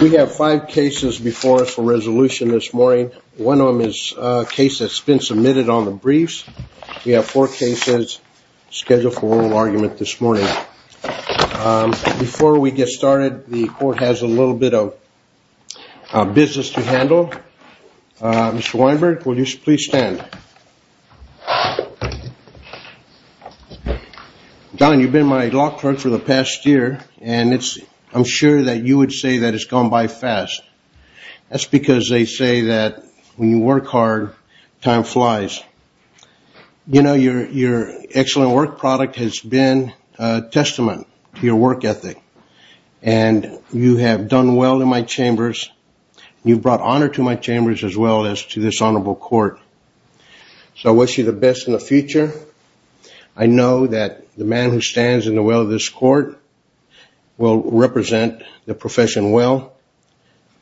We have five cases before us for resolution this morning. One of them is a case that's been submitted on the briefs. We have four cases scheduled for oral argument this morning. Before we get started, the court has a little bit of business to handle. Mr. Weinberg, will you please stand? Don, you've been my law clerk for the past year, and I'm sure that you would say that it's gone by fast. That's because they say that when you work hard, time flies. You know, your excellent work product has been a testament to your work ethic, and you have done well in my chambers. You've brought honor to my chambers as well as to this honorable court. So I wish you the best in the future. I know that the man who stands in the will of this court will represent the profession well,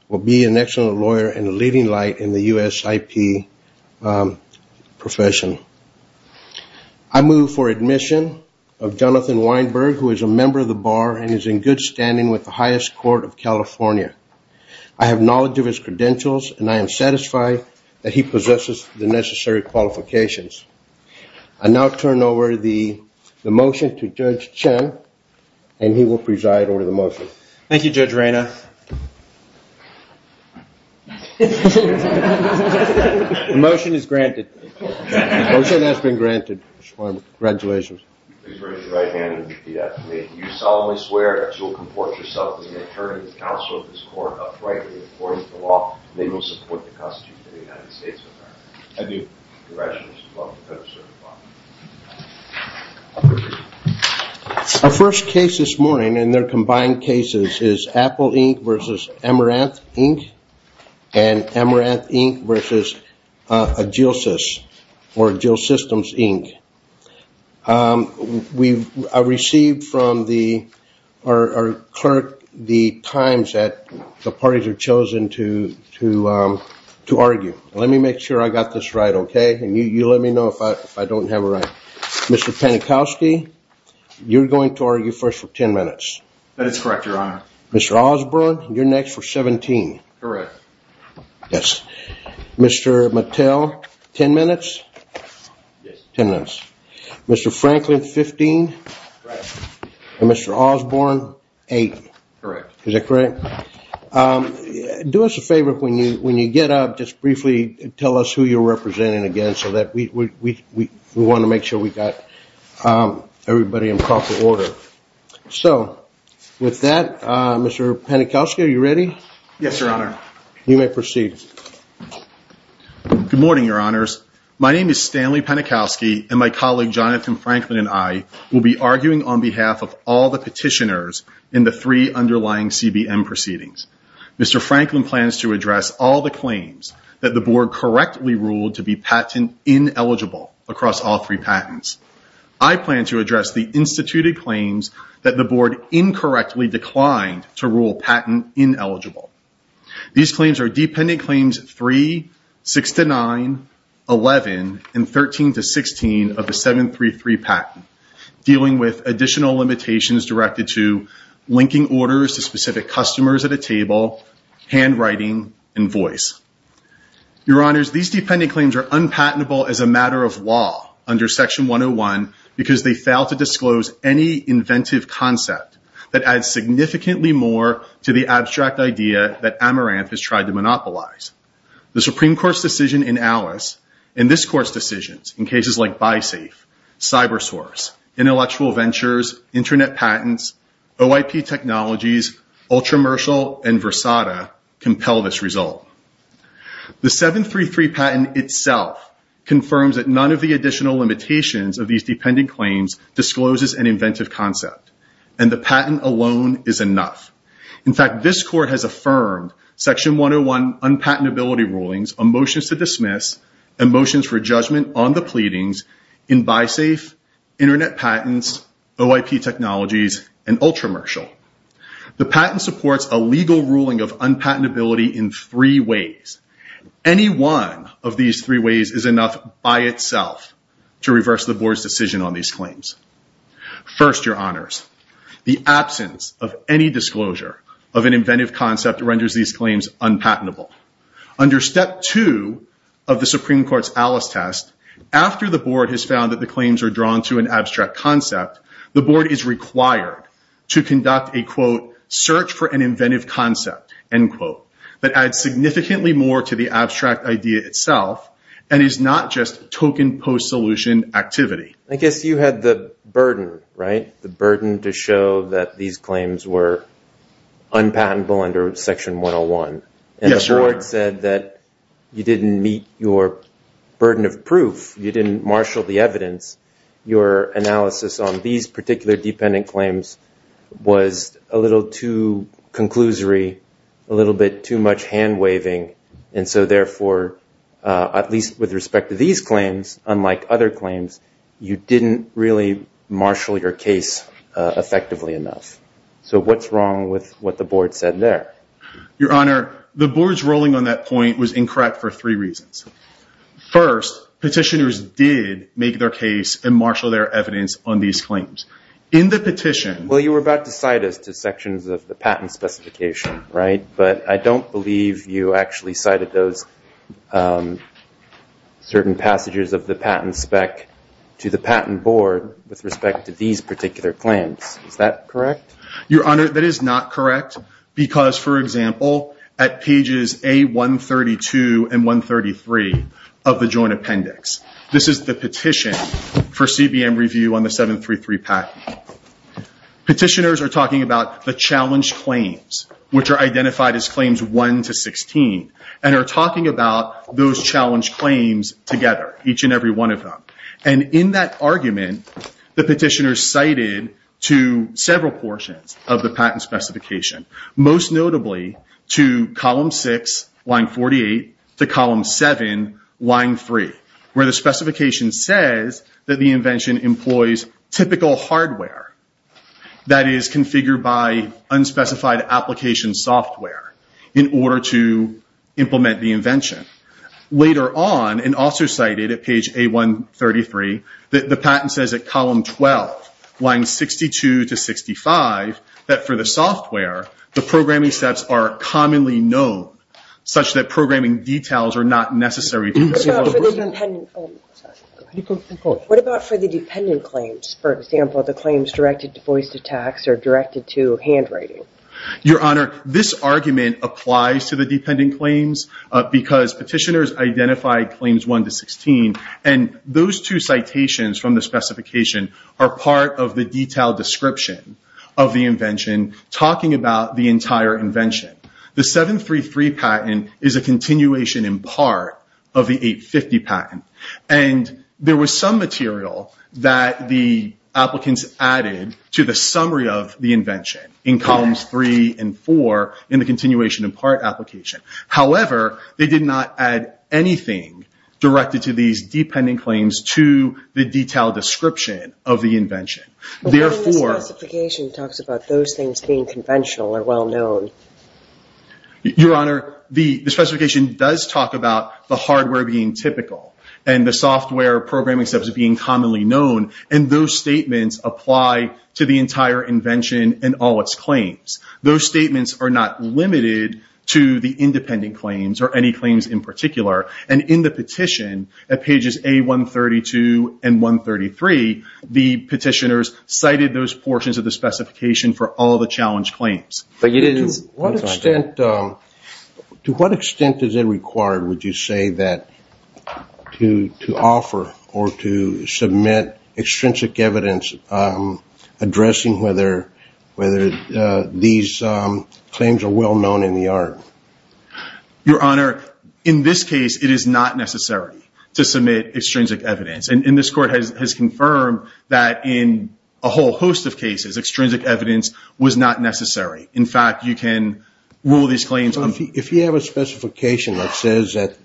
will be an excellent lawyer and a leading light in the USIP profession. I move for admission of Jonathan Weinberg, who is a member of the Bar and is in good standing with the highest court of California. I have knowledge of his credentials, and I am satisfied that he possesses the necessary qualifications. I now turn over the motion to Judge Chen, and he will preside over the motion. Thank you, Judge Reina. The motion is granted. The motion has been granted. Congratulations. Please raise your right hand and repeat after me. Do you solemnly swear that you will comport yourself to the attorney of the counsel of this court uprightly according to the law, and that you will support the Constitution of the United States of America? I do. Congratulations. You're welcome to come to the ceremony. Our first case this morning, and they're combined cases, is Apple Inc. versus Amaranth Inc., and Amaranth Inc. versus Agilisys, or Agilisystems Inc. I received from our clerk the times that the parties were chosen to argue. Let me make sure I got this right, okay? And you let me know if I don't have it right. Mr. Panikowski, you're going to argue first for 10 minutes. That is correct, Your Honor. Mr. Osborne, you're next for 17. Correct. Yes. Mr. Mattel, 10 minutes? Yes. 10 minutes. Mr. Franklin, 15. Correct. And Mr. Osborne, 8. Correct. Is that correct? Do us a favor. When you get up, just briefly tell us who you're representing again so that we want to make sure we've got everybody in proper order. So, with that, Mr. Panikowski, are you ready? Yes, Your Honor. You may proceed. Good morning, Your Honors. My name is Stanley Panikowski, and my colleague Jonathan Franklin and I will be arguing on behalf of all the petitioners in the three underlying CBM proceedings. Mr. Franklin plans to address all the claims that the Board correctly ruled to be patent ineligible across all three patents. I plan to address the instituted claims that the Board incorrectly declined to rule patent ineligible. These claims are Dependent Claims 3, 6-9, 11, and 13-16 of the 733 patent, dealing with additional limitations directed to linking orders to specific customers at a table, handwriting, and voice. Your Honors, these Dependent Claims are unpatentable as a matter of law under Section 101 because they fail to disclose any inventive concept that adds significantly more to the abstract idea that Amaranth has tried to monopolize. The Supreme Court's decision in Alice and this Court's decisions in cases like BuySafe, CyberSource, Intellectual Ventures, Internet Patents, OIP Technologies, Ultramersal, and Versata compel this result. The 733 patent itself confirms that none of the additional limitations of these Dependent Claims discloses an inventive concept, and the patent alone is enough. In fact, this Court has affirmed Section 101 unpatentability rulings, a motion to dismiss, and motions for judgment on the pleadings in BuySafe, Internet Patents, OIP Technologies, and Ultramersal. The patent supports a legal ruling of unpatentability in three ways. Any one of these three ways is enough by itself to reverse the Board's decision on these claims. First, Your Honors, the absence of any disclosure of an inventive concept renders these claims unpatentable. Under Step 2 of the Supreme Court's Alice test, after the Board has found that the claims are drawn to an abstract concept, the Board is required to conduct a, quote, search for an inventive concept, end quote, that adds significantly more to the abstract idea itself and is not just token post-solution activity. I guess you had the burden, right, the burden to show that these claims were unpatentable under Section 101. And the Board said that you didn't meet your burden of proof. You didn't marshal the evidence. Your analysis on these particular dependent claims was a little too conclusory, a little bit too much hand-waving. And so, therefore, at least with respect to these claims, unlike other claims, you didn't really marshal your case effectively enough. So what's wrong with what the Board said there? Your Honor, the Board's ruling on that point was incorrect for three reasons. First, petitioners did make their case and marshal their evidence on these claims. In the petition… Well, you were about to cite us to sections of the patent specification, right? But I don't believe you actually cited those certain passages of the patent spec to the Patent Board with respect to these particular claims. Is that correct? Your Honor, that is not correct because, for example, at pages A132 and 133 of the Joint Appendix, this is the petition for CBN review on the 733 patent. Petitioners are talking about the challenge claims, which are identified as Claims 1 to 16, and are talking about those challenge claims together, each and every one of them. And in that argument, the petitioners cited to several portions of the patent specification, most notably to column 6, line 48, to column 7, line 3, where the specification says that the invention employs typical hardware, that is, configured by unspecified application software, in order to implement the invention. Later on, and also cited at page A133, the patent says at column 12, lines 62 to 65, that for the software, the programming steps are commonly known, such that programming details are not necessary details. What about for the dependent claims? For example, the claims directed to voice attacks or directed to handwriting? Your Honor, this argument applies to the dependent claims because petitioners identified Claims 1 to 16, and those two citations from the specification are part of the detailed description of the invention, talking about the entire invention. The 733 patent is a continuation in part of the 850 patent, and there was some material that the applicants added to the summary of the invention in columns 3 and 4 in the continuation in part application. However, they did not add anything directed to these dependent claims to the detailed description of the invention. The specification talks about those things being conventional or well-known. Your Honor, the specification does talk about the hardware being typical and the software programming steps being commonly known, and those statements apply to the entire invention and all its claims. Those statements are not limited to the independent claims or any claims in particular, and in the petition at pages A132 and 133, the petitioners cited those portions of the specification for all the challenge claims. To what extent is it required, would you say, to offer or to submit extrinsic evidence addressing whether these claims are well-known in the art? Your Honor, in this case, it is not necessary to submit extrinsic evidence, and this Court has confirmed that in a whole host of cases, extrinsic evidence was not necessary. In fact, you can rule these claims… If you have a specification that says that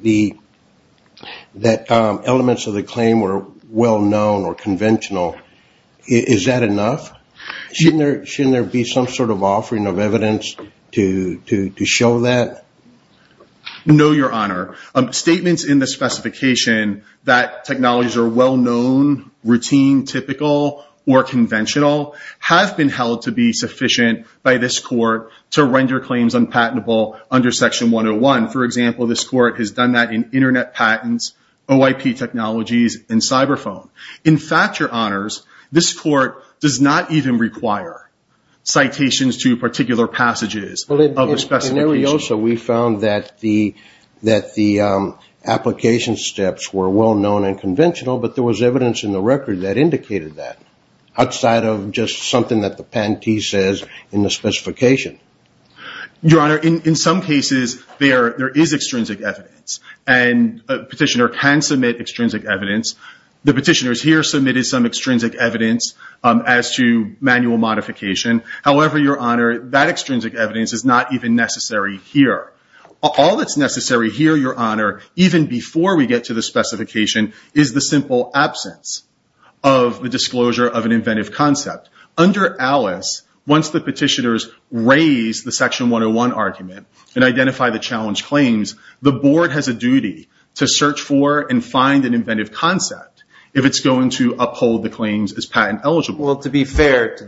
elements of the claim were well-known or conventional, is that enough? Shouldn't there be some sort of offering of evidence to show that? No, Your Honor. Statements in the specification that technologies are well-known, routine, typical, or conventional have been held to be sufficient by this Court to render claims unpatentable under Section 101. For example, this Court has done that in Internet patents, OIP technologies, and cyber phone. In fact, Your Honors, this Court does not even require citations to particular passages of the specification. In Arioso, we found that the application steps were well-known and conventional, but there was evidence in the record that indicated that, outside of just something that the patentee says in the specification. Your Honor, in some cases, there is extrinsic evidence, and a petitioner can submit extrinsic evidence. The petitioners here submitted some extrinsic evidence as to manual modification. However, Your Honor, that extrinsic evidence is not even necessary here. All that's necessary here, Your Honor, even before we get to the specification, is the simple absence of the disclosure of an inventive concept. Under ALICE, once the petitioners raise the Section 101 argument and identify the challenge claims, the Board has a duty to search for and find an inventive concept if it's going to uphold the claims as patent eligible. Well, to be fair to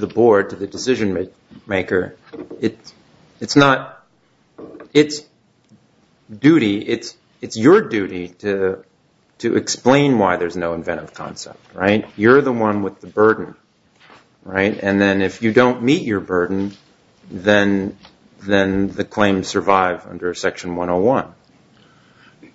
the Board, to the decision-maker, it's not its duty. It's your duty to explain why there's no inventive concept. You're the one with the burden, and then if you don't meet your burden, then the claims survive under Section 101.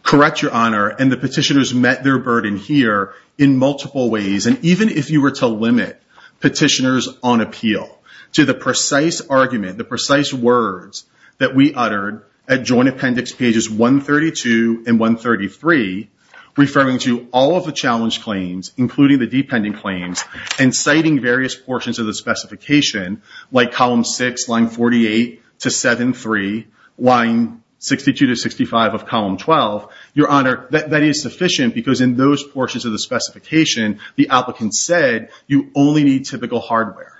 Correct, Your Honor, and the petitioners met their burden here in multiple ways. And even if you were to limit petitioners on appeal to the precise argument, the precise words that we uttered at Joint Appendix Pages 132 and 133, referring to all of the challenge claims, including the dependent claims, and citing various portions of the specification, like Column 6, Lines 48 to 73, Lines 62 to 65 of Column 12, Your Honor, that is sufficient because in those portions of the specification, the applicants said you only need typical hardware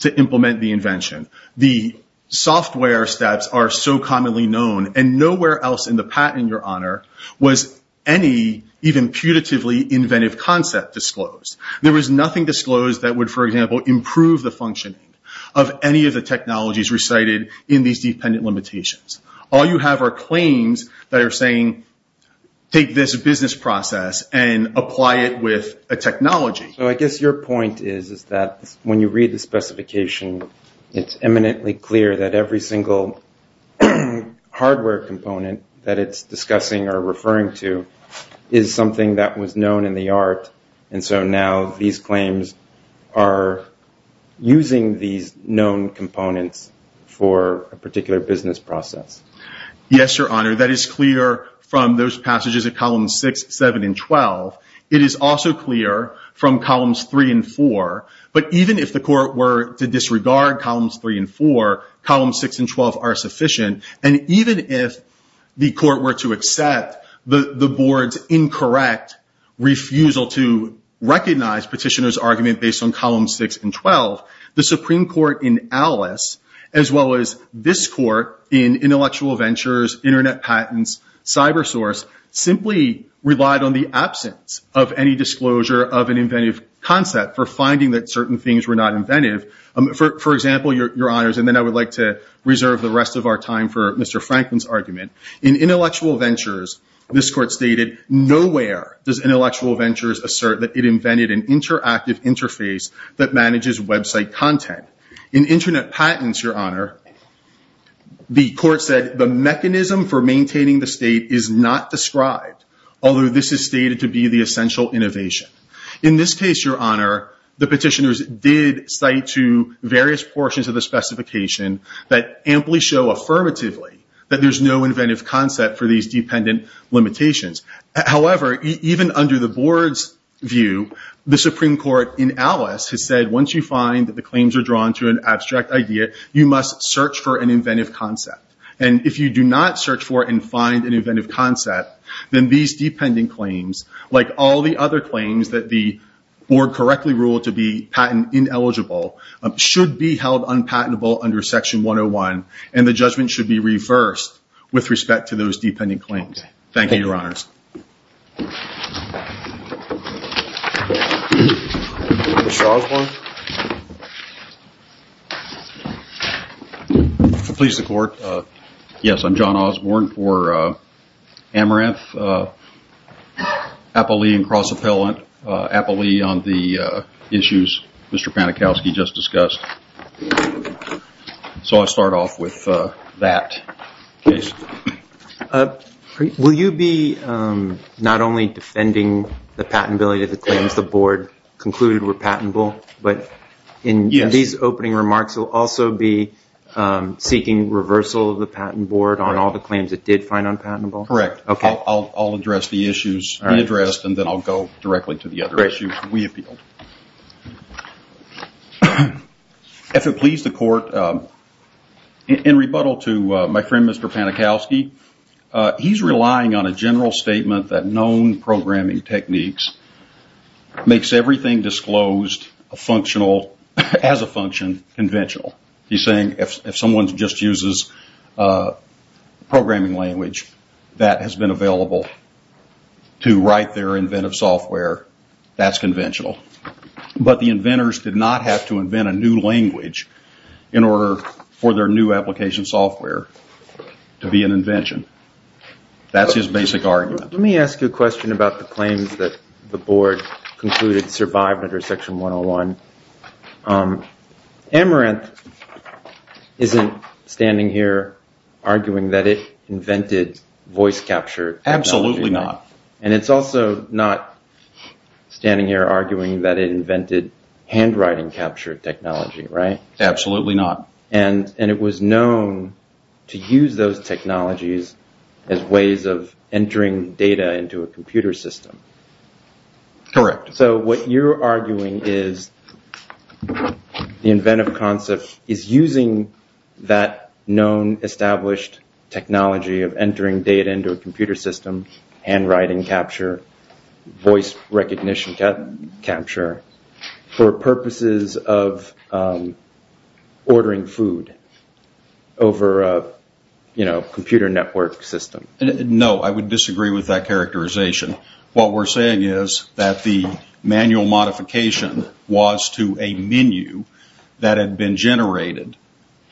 to implement the invention. The software steps are so commonly known, and nowhere else in the patent, Your Honor, was any even putatively inventive concept disclosed. There was nothing disclosed that would, for example, improve the functioning of any of the technologies recited in these dependent limitations. All you have are claims that are saying, take this business process and apply it with a technology. So I guess your point is that when you read the specification, it's eminently clear that every single hardware component that it's discussing or referring to is something that was known in the art, and so now these claims are using these known components for a particular business process. Yes, Your Honor, that is clear from those passages of Columns 6, 7, and 12. It is also clear from Columns 3 and 4, but even if the court were to disregard Columns 3 and 4, Columns 6 and 12 are sufficient, and even if the court were to accept the board's incorrect refusal to recognize petitioner's argument based on Columns 6 and 12, the Supreme Court in Alice, as well as this court in Intellectual Ventures, Internet Patents, CyberSource, simply relied on the absence of any disclosure of an inventive concept for finding that certain things were not inventive. For example, Your Honors, and then I would like to reserve the rest of our time for Mr. Franklin's argument, in Intellectual Ventures, this court stated, nowhere does Intellectual Ventures assert that it invented an interactive interface that manages website content. In Internet Patents, Your Honor, the court said the mechanism for maintaining the state is not described, although this is stated to be the essential innovation. In this case, Your Honor, the petitioners did cite to various portions of the specification that amply show affirmatively that there's no inventive concept for these dependent limitations. However, even under the board's view, the Supreme Court in Alice has said once you find that the claims are drawn to an abstract idea, you must search for an inventive concept. And if you do not search for and find an inventive concept, then these dependent claims, like all the other claims that the board correctly ruled to be patent ineligible, should be held unpatentable under Section 101, and the judgment should be reversed with respect to those dependent claims. Mr. Osborne? Please, the court. Yes, I'm John Osborne for Amaranth, Appley and Cross-Appellant, Appley on the issues Mr. Panikowski just discussed. So I'll start off with that case. Will you be not only defending the patentability of the claims the board concluded were patentable, but in these opening remarks will also be seeking reversal of the patent board on all the claims it did find unpatentable? Correct. I'll address the issues we addressed, and then I'll go directly to the other issues we appealed. If it please the court, in rebuttal to my friend Mr. Panikowski, he's relying on a general statement that known programming techniques makes everything disclosed as a function conventional. He's saying if someone just uses programming language that has been available to write their inventive software, that's conventional. But the inventors did not have to invent a new language in order for their new application software to be an invention. That's his basic argument. Let me ask you a question about the claims that the board concluded survived under Section 101. Amaranth isn't standing here arguing that it invented voice capture technology. Absolutely not. And it's also not standing here arguing that it invented handwriting capture technology, right? Absolutely not. And it was known to use those technologies as ways of entering data into a computer system. Correct. So what you're arguing is the inventive concept is using that known established technology of entering data into a computer system, handwriting capture, voice recognition capture, for purposes of ordering food over a computer network system. No, I would disagree with that characterization. What we're saying is that the manual modification was to a menu that had been generated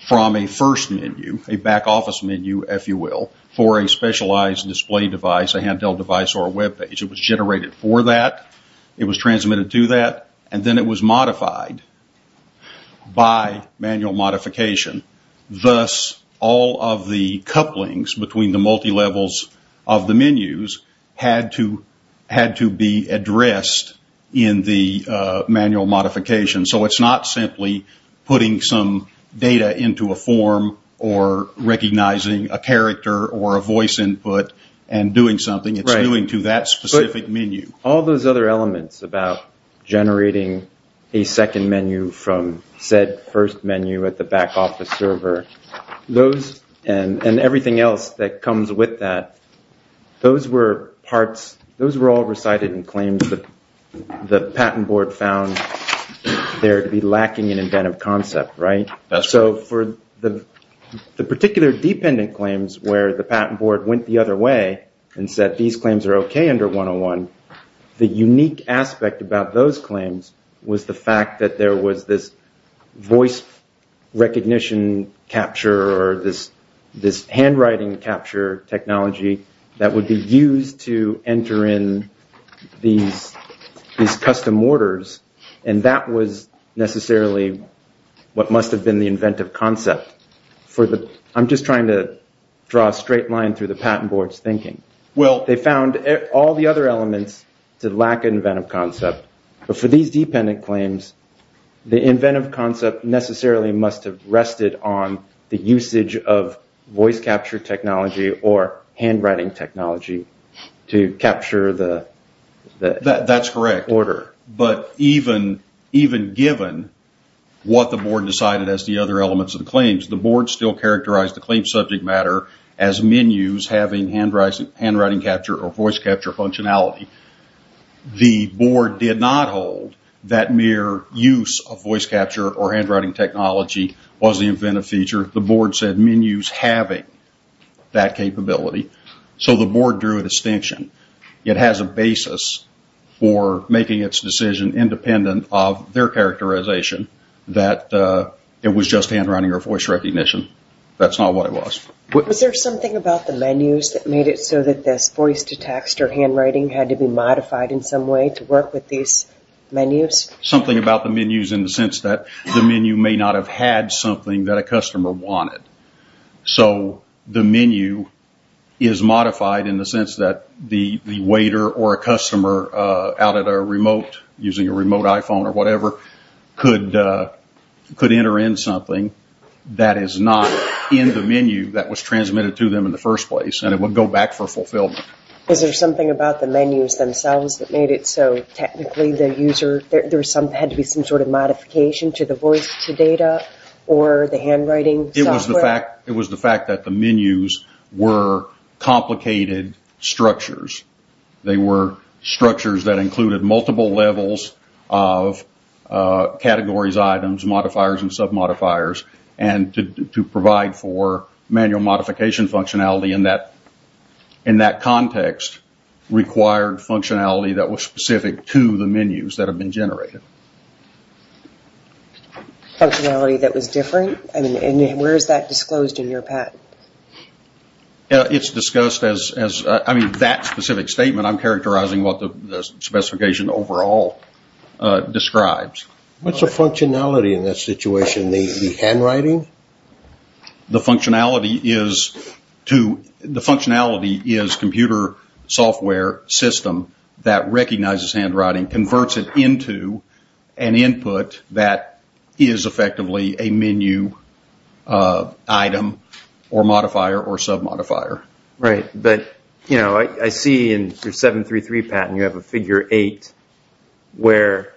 from a first menu, a back office menu, if you will, for a specialized display device, a handheld device or a web page. It was generated for that. It was transmitted to that. And then it was modified by manual modification. Thus, all of the couplings between the multilevels of the menus had to be addressed in the manual modification. So it's not simply putting some data into a form or recognizing a character or a voice input and doing something. It's going to that specific menu. All those other elements about generating a second menu from said first menu at the back office server and everything else that comes with that, those were all recited in claims that the patent board found there to be lacking in inventive concept. So for the particular dependent claims where the patent board went the other way and said these claims are okay under 101, the unique aspect about those claims was the fact that there was this voice recognition capture or this handwriting capture technology that would be used to enter in these custom orders. And that was necessarily what must have been the inventive concept. I'm just trying to draw a straight line through the patent board's thinking. They found all the other elements that lack inventive concept. But for these dependent claims, the inventive concept necessarily must have rested on the usage of voice capture technology or handwriting technology to capture the order. But even given what the board decided as the other elements of the claims, the board still characterized the claim subject matter as menus having handwriting capture or voice capture functionality. The board did not hold that mere use of voice capture or handwriting technology was the inventive feature. The board said menus having that capability. So the board drew a distinction. It has a basis for making its decision independent of their characterization that it was just handwriting or voice recognition. That's not what it was. Was there something about the menus that made it so that the voice to text or handwriting had to be modified in some way to work with these menus? Something about the menus in the sense that the menu may not have had something that a customer wanted. So the menu is modified in the sense that the waiter or a customer out at a remote, using a remote iPhone or whatever, could enter in something that is not in the menu that was transmitted to them in the first place. And it would go back for fulfillment. Was there something about the menus themselves that made it so technically there had to be some sort of modification to the voice data or the handwriting software? It was the fact that the menus were complicated structures. They were structures that included multiple levels of categories, items, modifiers, and submodifiers. And to provide for manual modification functionality in that context required functionality that was specific to the menus that had been generated. Functionality that was different? And where is that disclosed in your patent? It's discussed as, I mean, that specific statement I'm characterizing what the specification overall describes. What's the functionality in that situation? The handwriting? The functionality is computer software system that recognizes handwriting, converts it into an input that is effectively a menu item or modifier or submodifier. Right, but I see in your 733 patent you have a figure 8 where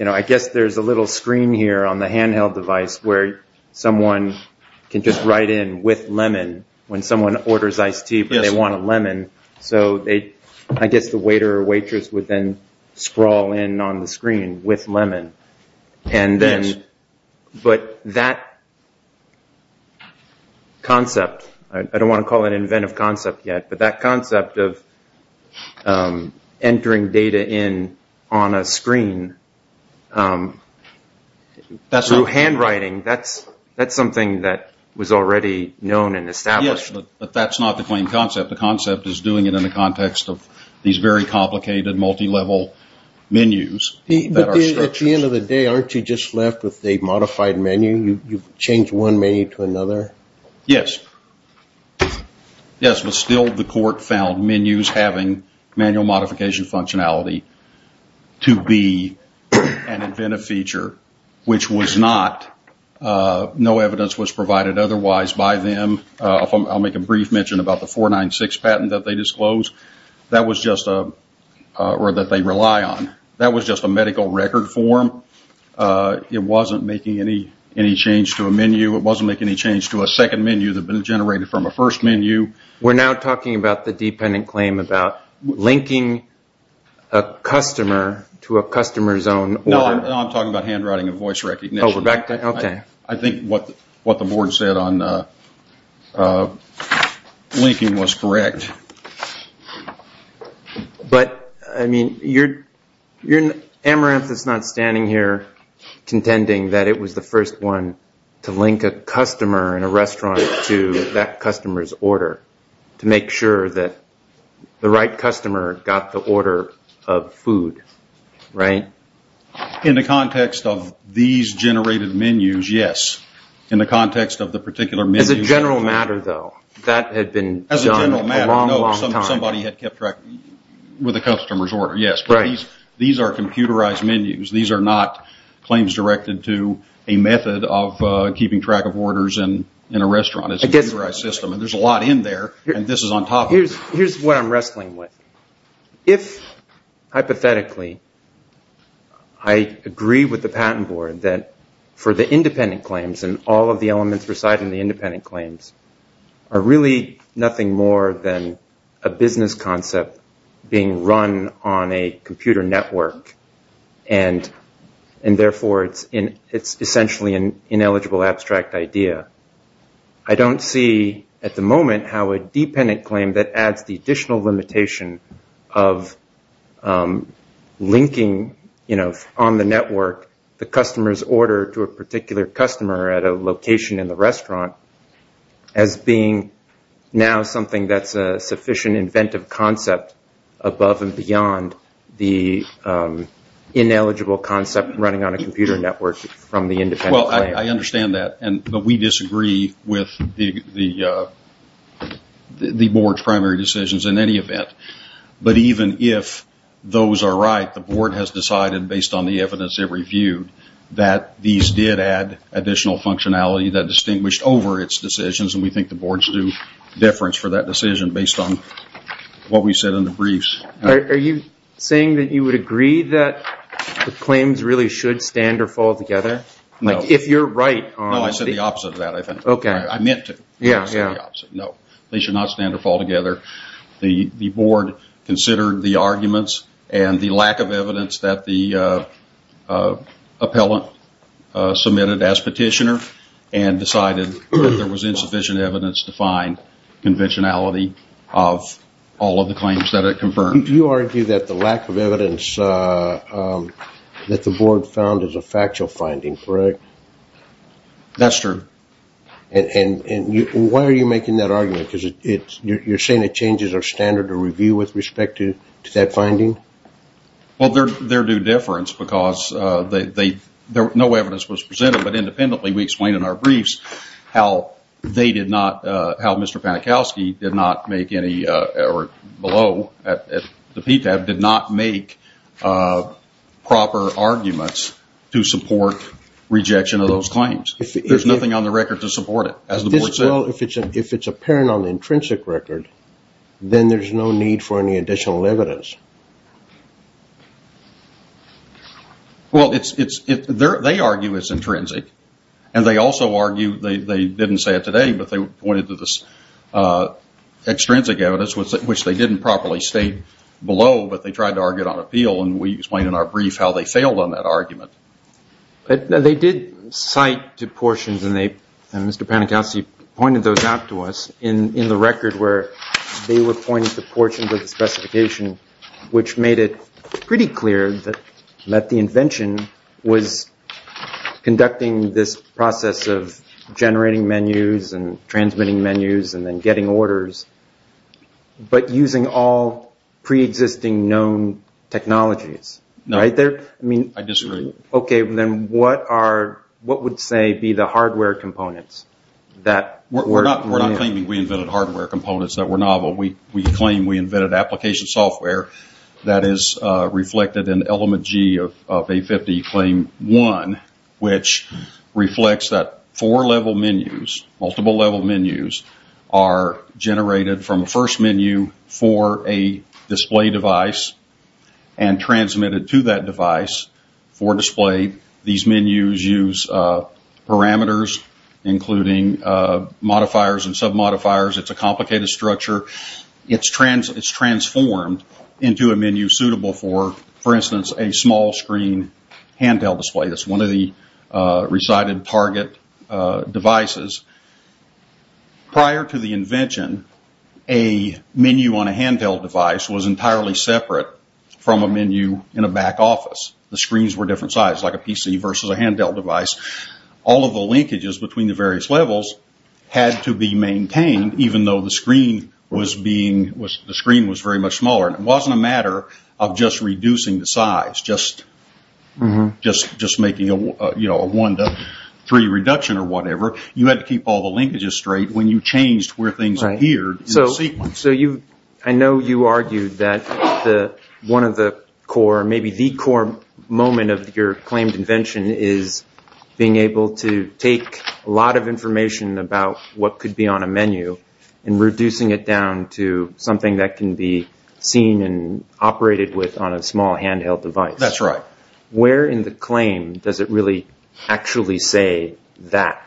I guess there's a little screen here on the handheld device where someone can just write in with lemon when someone orders iced tea but they want a lemon. So I guess the waiter or waitress would then scroll in on the screen with lemon. Yes. But that concept, I don't want to call it inventive concept yet, but that concept of entering data in on a screen through handwriting, that's something that was already known and established. Yes, but that's not the plain concept. The concept is doing it in the context of these very complicated multi-level menus. At the end of the day, aren't you just left with a modified menu? You've changed one menu to another? Yes. Yes, but still the court found menus having manual modification functionality to be an inventive feature, which was not, no evidence was provided otherwise by them. I'll make a brief mention about the 496 patent that they disclosed. That was just a medical record form. It wasn't making any change to a menu. It wasn't making any change to a second menu that had been generated from a first menu. We're now talking about the dependent claim about linking a customer to a customer's own order. No, I'm talking about handwriting and voice recognition. Oh, Rebecca, okay. I think what the board said on linking was correct. But, I mean, Amaranth is not standing here contending that it was the first one to link a customer in a restaurant to that customer's order to make sure that the right customer got the order of food, right? In the context of these generated menus, yes. In the context of the particular menu. As a general matter, though, that had been done a long, long time. Somebody had kept track with a customer's order, yes. These are computerized menus. These are not claims directed to a method of keeping track of orders in a restaurant. It's a computerized system. There's a lot in there, and this is on top of it. Here's what I'm wrestling with. If, hypothetically, I agree with the patent board that for the independent claims and all of the elements residing in the independent claims are really nothing more than a business concept being run on a computer network and, therefore, it's essentially an ineligible abstract idea, I don't see at the moment how a dependent claim that adds the additional limitation of linking on the network the customer's order to a particular customer at a location in the restaurant as being now something that's a sufficient inventive concept above and beyond the ineligible concept running on a computer network from the independent claim. Well, I understand that, and we disagree with the board's primary decisions in any event. But even if those are right, the board has decided, based on the evidence it reviewed, that these did add additional functionality that distinguished over its decisions, and we think the board stood deference for that decision based on what we said in the briefs. Are you saying that you would agree that the claims really should stand or fall together? No. If you're right... No, I said the opposite of that. Okay. I meant to. Yeah, yeah. No, they should not stand or fall together. The board considered the arguments and the lack of evidence that the appellant submitted as petitioner and decided that there was insufficient evidence to find conventionality of all of the claims that it confirmed. You argue that the lack of evidence that the board found is a factual finding, correct? That's true. And why are you making that argument? You're saying that changes are standard to review with respect to that finding? Well, they're due deference because no evidence was presented, but independently we explained in our briefs how they did not, how Mr. Panikowsky did not make any, or below, the PTAB did not make proper arguments to support rejection of those claims. There's nothing on the record to support it, as the board said. Well, if it's apparent on the intrinsic record, then there's no need for any additional evidence. Well, they argue it's intrinsic, and they also argue, they didn't say it today, but they pointed to this extrinsic evidence, which they didn't properly state below, but they tried to argue it on appeal, and we explained in our brief how they failed on that argument. They did cite portions, and Mr. Panikowsky pointed those out to us, in the record where they were pointing to portions of the specification, which made it pretty clear that the invention was conducting this process of generating menus and transmitting menus and then getting orders, but using all pre-existing known technologies. I disagree. Okay, then what are, what would say be the hardware components? We're not claiming we invented hardware components that were novel. We claim we invented application software that is reflected in Element G of A50 Claim 1, which reflects that four-level menus, multiple-level menus, are generated from a first menu for a display device and transmitted to that device for display. These menus use parameters, including modifiers and submodifiers. It's a complicated structure. It's transformed into a menu suitable for, for instance, a small-screen handheld display. That's one of the recited target devices. Prior to the invention, a menu on a handheld device was entirely separate from a menu in a back office. The screens were different sizes, like a PC versus a handheld device. All of the linkages between the various levels had to be maintained, even though the screen was being, the screen was very much smaller. It wasn't a matter of just reducing the size, just making a one to three reduction or whatever. You had to keep all the linkages straight when you changed where things appeared in the sequence. I know you argued that one of the core, maybe the core moment of your claimed invention is being able to take a lot of information about what could be on a menu and reducing it down to something that can be seen and operated with on a small handheld device. That's right. Where in the claim does it really actually say that?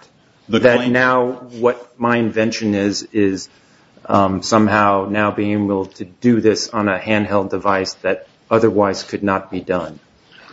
That now what my invention is, is somehow now being able to do this on a handheld device that otherwise could not be done.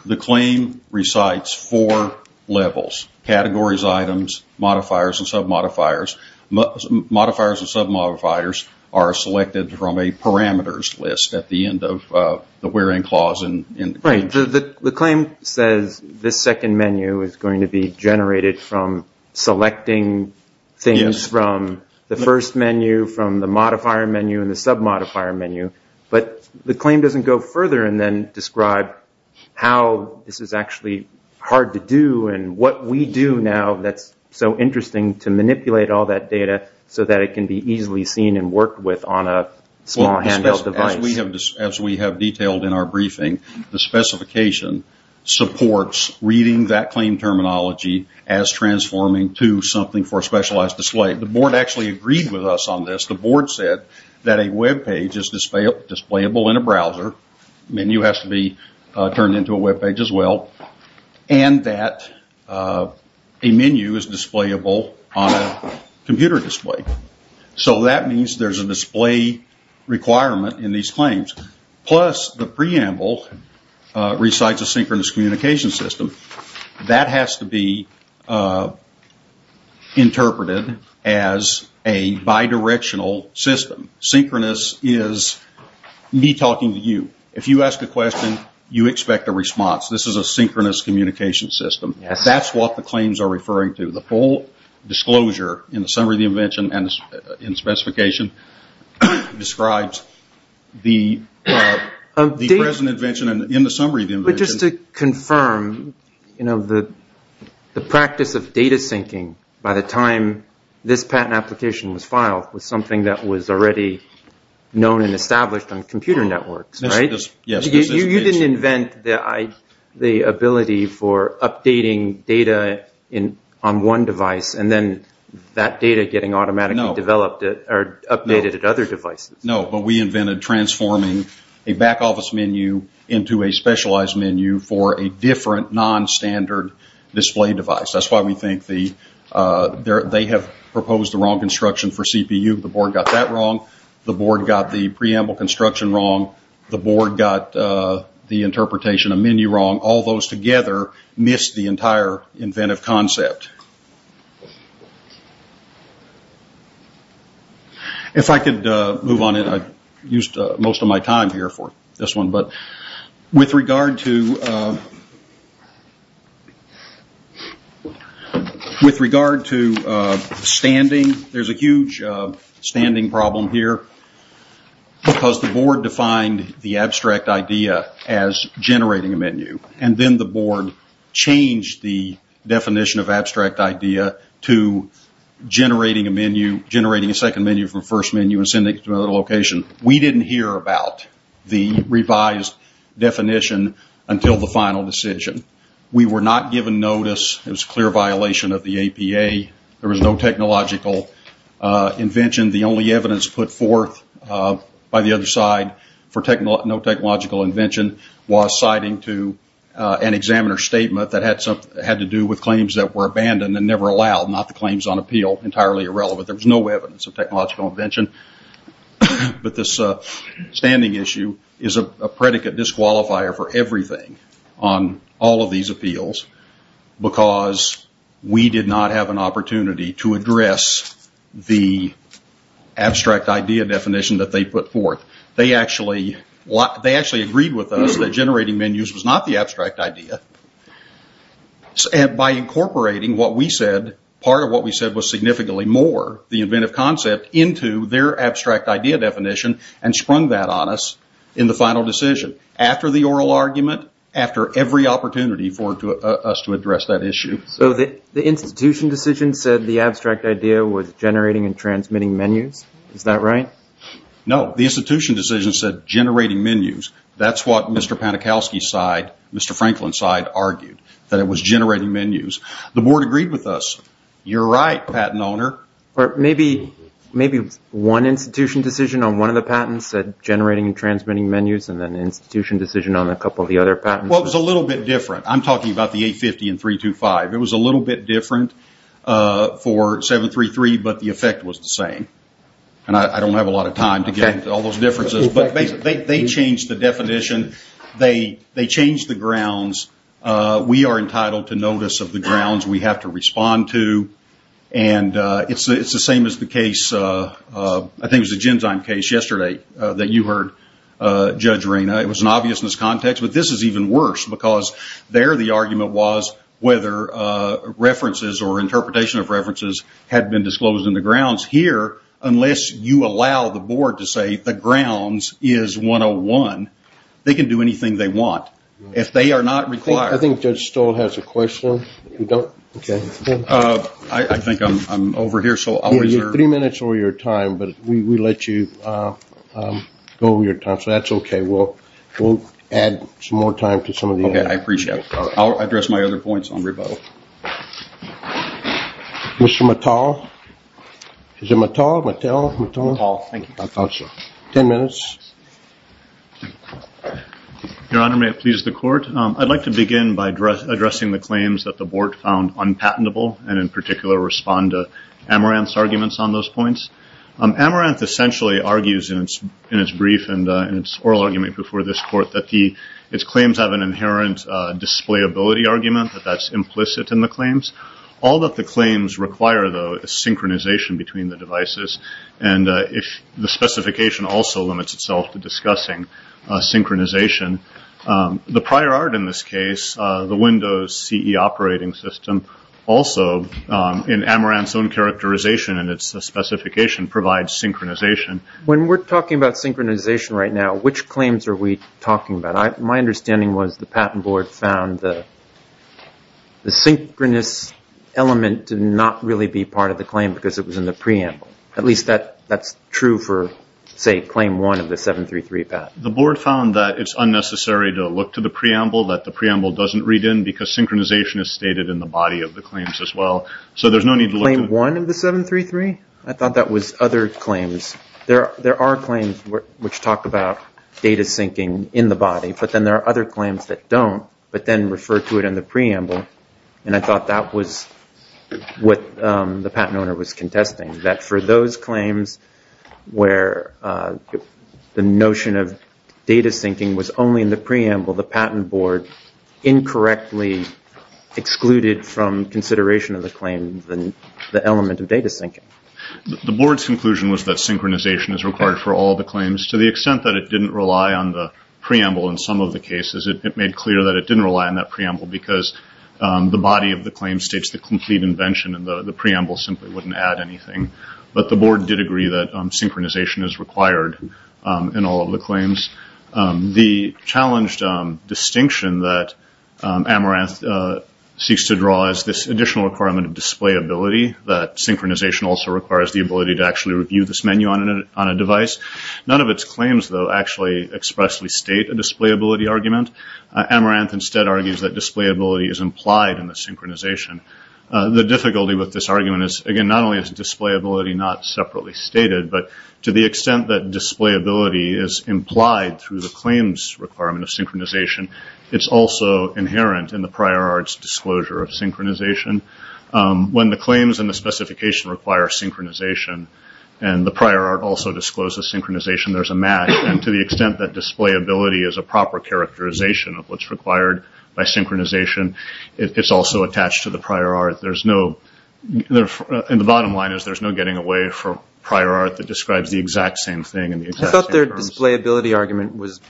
The claim recites four levels. Categories, items, modifiers, and submodifiers. Modifiers and submodifiers are selected from a parameters list at the end of the where in clause in the claim. The claim says this second menu is going to be generated from selecting things from the first menu, from the modifier menu, and the submodifier menu. But the claim doesn't go further and then describe how this is actually hard to do and what we do now that's so interesting to manipulate all that data so that it can be easily seen and worked with on a small handheld device. As we have detailed in our briefing, the specification supports reading that claim terminology as transforming to something for a specialized display. The board actually agreed with us on this. The board said that a web page is displayable in a browser. Menu has to be turned into a web page as well. And that a menu is displayable on a computer display. So that means there's a display requirement in these claims. Plus, the preamble recites a synchronous communication system. That has to be interpreted as a bidirectional system. Synchronous is me talking to you. If you ask a question, you expect a response. This is a synchronous communication system. That's what the claims are referring to. The full disclosure in the summary of the invention and specification describes the present invention in the summary of the invention. But just to confirm, the practice of data syncing by the time this patent application was filed was something that was already known and established on computer networks, right? Yes. You didn't invent the ability for updating data on one device and then that data getting automatically developed or updated at other devices. No, but we invented transforming a back office menu into a specialized menu for a different nonstandard display device. That's why we think they have proposed the wrong construction for CPU. The board got that wrong. The board got the preamble construction wrong. The board got the interpretation of menu wrong. All those together missed the entire inventive concept. If I could move on, I used most of my time here for this one. With regard to standing, there's a huge standing problem here. Because the board defined the abstract idea as generating a menu. And then the board changed the definition of abstract idea to generating a menu, generating a second menu from the first menu and sending it to another location. We didn't hear about the revised definition until the final decision. We were not given notice. It was a clear violation of the APA. There was no technological invention. The only evidence put forth by the other side for no technological invention was citing to an examiner's statement that had to do with claims that were abandoned and never allowed, not the claims on appeal entirely irrelevant. There was no evidence of technological invention. But this standing issue is a predicate disqualifier for everything on all of these appeals because we did not have an opportunity to address the abstract idea definition that they put forth. They actually agreed with us that generating menus was not the abstract idea. And by incorporating what we said, part of what we said was significantly more the inventive concept into their abstract idea definition and sprung that on us in the final decision. After the oral argument, after every opportunity for us to address that issue. So the institution decision said the abstract idea was generating and transmitting menus? Is that right? No. The institution decision said generating menus. That's what Mr. Panikowski's side, Mr. Franklin's side argued, that it was generating menus. The board agreed with us. You're right, patent owner. But maybe one institution decision on one of the patents said generating and transmitting menus and then the institution decision on a couple of the other patents. Well, it was a little bit different. I'm talking about the 850 and 325. It was a little bit different for 733, but the effect was the same. And I don't have a lot of time to get into all those differences. But they changed the definition. They changed the grounds. We are entitled to notice of the grounds we have to respond to. And it's the same as the case, I think it was the Genzyme case yesterday that you heard Judge Ring. It was an obvious miscontext. But this is even worse because there the argument was whether references or interpretation of references had been disclosed in the grounds. Here, unless you allow the board to say the grounds is 101, they can do anything they want. If they are not required. I think Judge Stoll has a question. I think I'm over here, so I'll reserve. You're three minutes over your time, but we let you go over your time, so that's okay. We'll add some more time to some of the others. Okay, I appreciate it. I'll address my other points on rebuttal. Mr. Mattel? Is it Mattel? Mattel? Thank you. Ten minutes. Your Honor, may it please the court. I'd like to begin by addressing the claims that the board found unpatentable, and in particular respond to Amaranth's arguments on those points. Amaranth essentially argues in its brief and its oral argument before this court that its claims have an inherent displayability argument, that that's implicit in the claims. All that the claims require, though, is synchronization between the devices, and the specification also limits itself to discussing synchronization. The prior art in this case, the Windows CE operating system, also in Amaranth's own characterization and its specification, provides synchronization. When we're talking about synchronization right now, which claims are we talking about? My understanding was the patent board found the synchronous element to not really be part of the claim because it was in the preamble. At least that's true for, say, claim one of the 733 patent. The board found that it's unnecessary to look to the preamble, that the preamble doesn't read in because synchronization is stated in the body of the claims as well. So there's no need to look to... Claim one of the 733? I thought that was other claims. There are claims which talk about data syncing in the body, but then there are other claims that don't, but then refer to it in the preamble. I thought that was what the patent owner was contesting, that for those claims where the notion of data syncing was only in the preamble, the patent board incorrectly excluded from consideration of the claims the element of data syncing. The board's conclusion was that synchronization is required for all the claims. To the extent that it didn't rely on the preamble in some of the cases, it made clear that it didn't rely on that preamble because the body of the claim states the complete invention and the preamble simply wouldn't add anything. But the board did agree that synchronization is required in all of the claims. The challenged distinction that Amaranth seeks to draw is this additional requirement of displayability, that synchronization also requires the ability to actually review this menu on a device. None of its claims, though, actually expressly state a displayability argument. Amaranth instead argues that displayability is implied in the synchronization. The difficulty with this argument is, again, not only is displayability not separately stated, but to the extent that displayability is implied through the claims requirement of synchronization, it's also inherent in the prior art's disclosure of synchronization. When the claims and the specification require synchronization, and the prior art also disclosed the synchronization, there's a match, and to the extent that displayability is a proper characterization of what's required by synchronization, it's also attached to the prior art. The bottom line is there's no getting away for prior art that describes the exact same thing. I thought their displayability argument was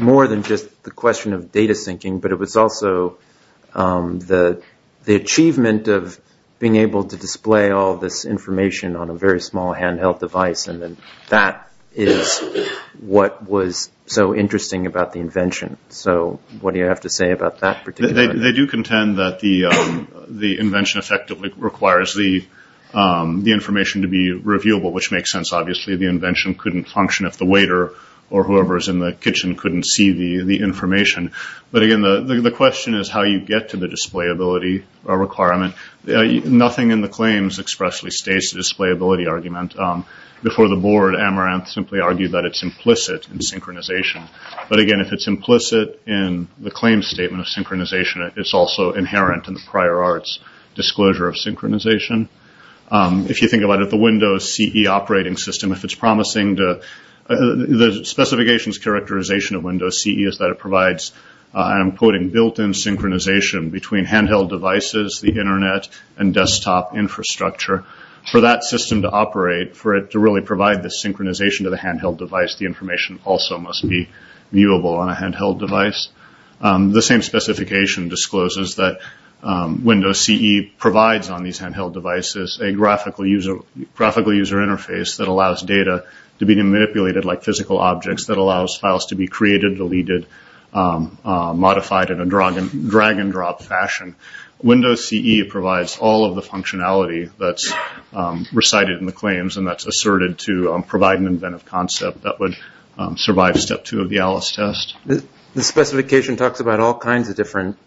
more than just the question of data syncing, but it was also the achievement of being able to display all this information on a very small handheld device, and that is what was so interesting about the invention. So, what do you have to say about that particular argument? They do contend that the invention effectively requires the information to be reviewable, which makes sense. Obviously, the invention couldn't function if the waiter or whoever is in the kitchen couldn't see the information. But, again, the question is how you get to the displayability requirement. Nothing in the claims expressly states the displayability argument. Before the board, Amaranth simply argued that it's implicit in synchronization. But, again, if it's implicit in the claims statement of synchronization, it's also inherent in the prior art's disclosure of synchronization. If you think about it, the Windows CE operating system, if it's promising, the specification's characterization of Windows CE is that it provides, I'm quoting, built-in synchronization between handheld devices, the internet, and desktop infrastructure. For that system to operate, for it to really provide the synchronization to the handheld device, the information also must be viewable on a handheld device. The same specification discloses that Windows CE provides on these handheld devices a graphical user interface that allows data to be manipulated like physical objects, that allows files to be created, deleted, modified in a drag-and-drop fashion. Windows CE provides all of the functionality that's recited in the claims and that's asserted to provide an inventive concept that would survive step two of the ALICE test. The specification talks about all kinds of different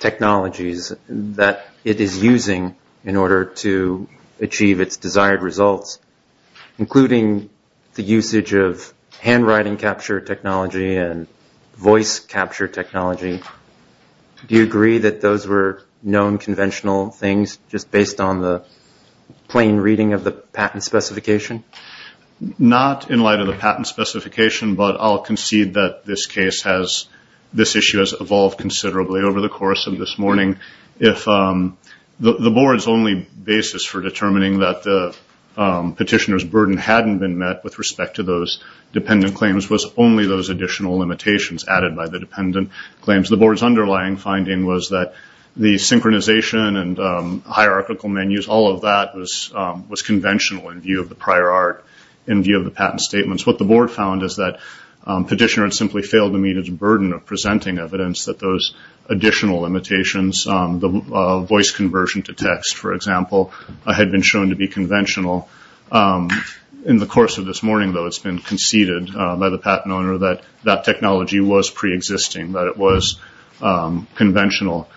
technologies that it is using in order to achieve its desired results, including the usage of handwriting capture technology and voice capture technology. Do you agree that those were known conventional things just based on the plain reading of the patent specification? Not in light of the patent specification, but I'll concede that this issue has evolved considerably over the course of this morning. The board's only basis for determining that the petitioner's burden hadn't been met with respect to those dependent claims was only those additional limitations added by the dependent claims. The board's underlying finding was that the synchronization and hierarchical menus, all of that was conventional in view of the prior art, in view of the patent statements. What the board found is that petitioners simply failed to meet its burden of presenting evidence that those additional limitations, the voice conversion to text, for example, had been shown to be conventional. In the course of this morning, though, it's been conceded by the patent owner that that technology was preexisting, that it was conventional.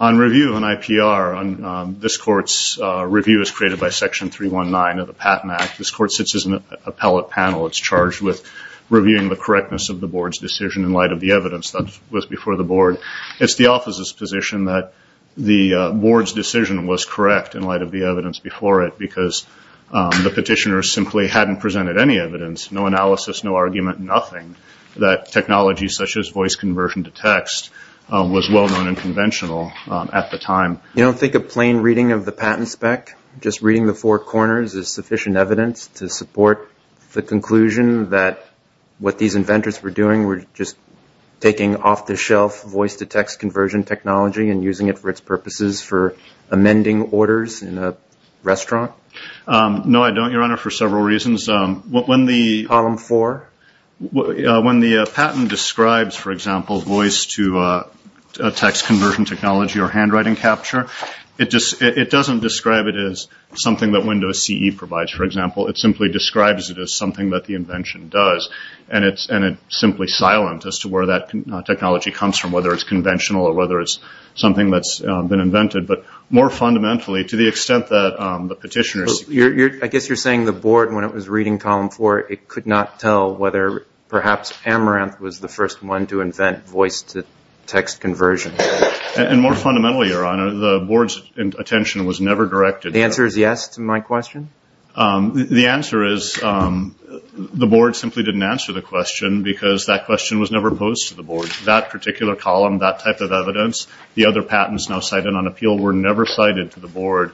On review and IPR, this court's review is created by Section 319 of the Patent Act. This court sits as an appellate panel. It's charged with reviewing the correctness of the board's decision in light of the evidence that was before the board. It's the office's position that the board's decision was correct in light of the evidence before it because the petitioner simply hadn't presented any evidence, no analysis, no argument, nothing, that technology such as voice conversion to text was well-known and conventional at the time. You don't think a plain reading of the patent spec, just reading the four corners, is sufficient evidence to support the conclusion that what these inventors were doing was just taking off-the-shelf voice-to-text conversion technology and using it for its purposes for amending orders in a restaurant? No, I don't, Your Honor, for several reasons. Column 4? When the patent describes, for example, voice-to-text conversion technology or handwriting capture, it doesn't describe it as something that Windows CE provides, for example. It simply describes it as something that the invention does, and it's simply silent as to where that technology comes from, whether it's conventional or whether it's something that's been invented. But more fundamentally, to the extent that the petitioner... I guess you're saying the board, when it was reading Column 4, it could not tell whether perhaps Tamarant was the first one to invent voice-to-text conversion. And more fundamentally, Your Honor, the board's attention was never directed... The answer is yes to my question? The answer is the board simply didn't answer the question because that question was never posed to the board. That particular column, that type of evidence, the other patents now cited on appeal, were never cited to the board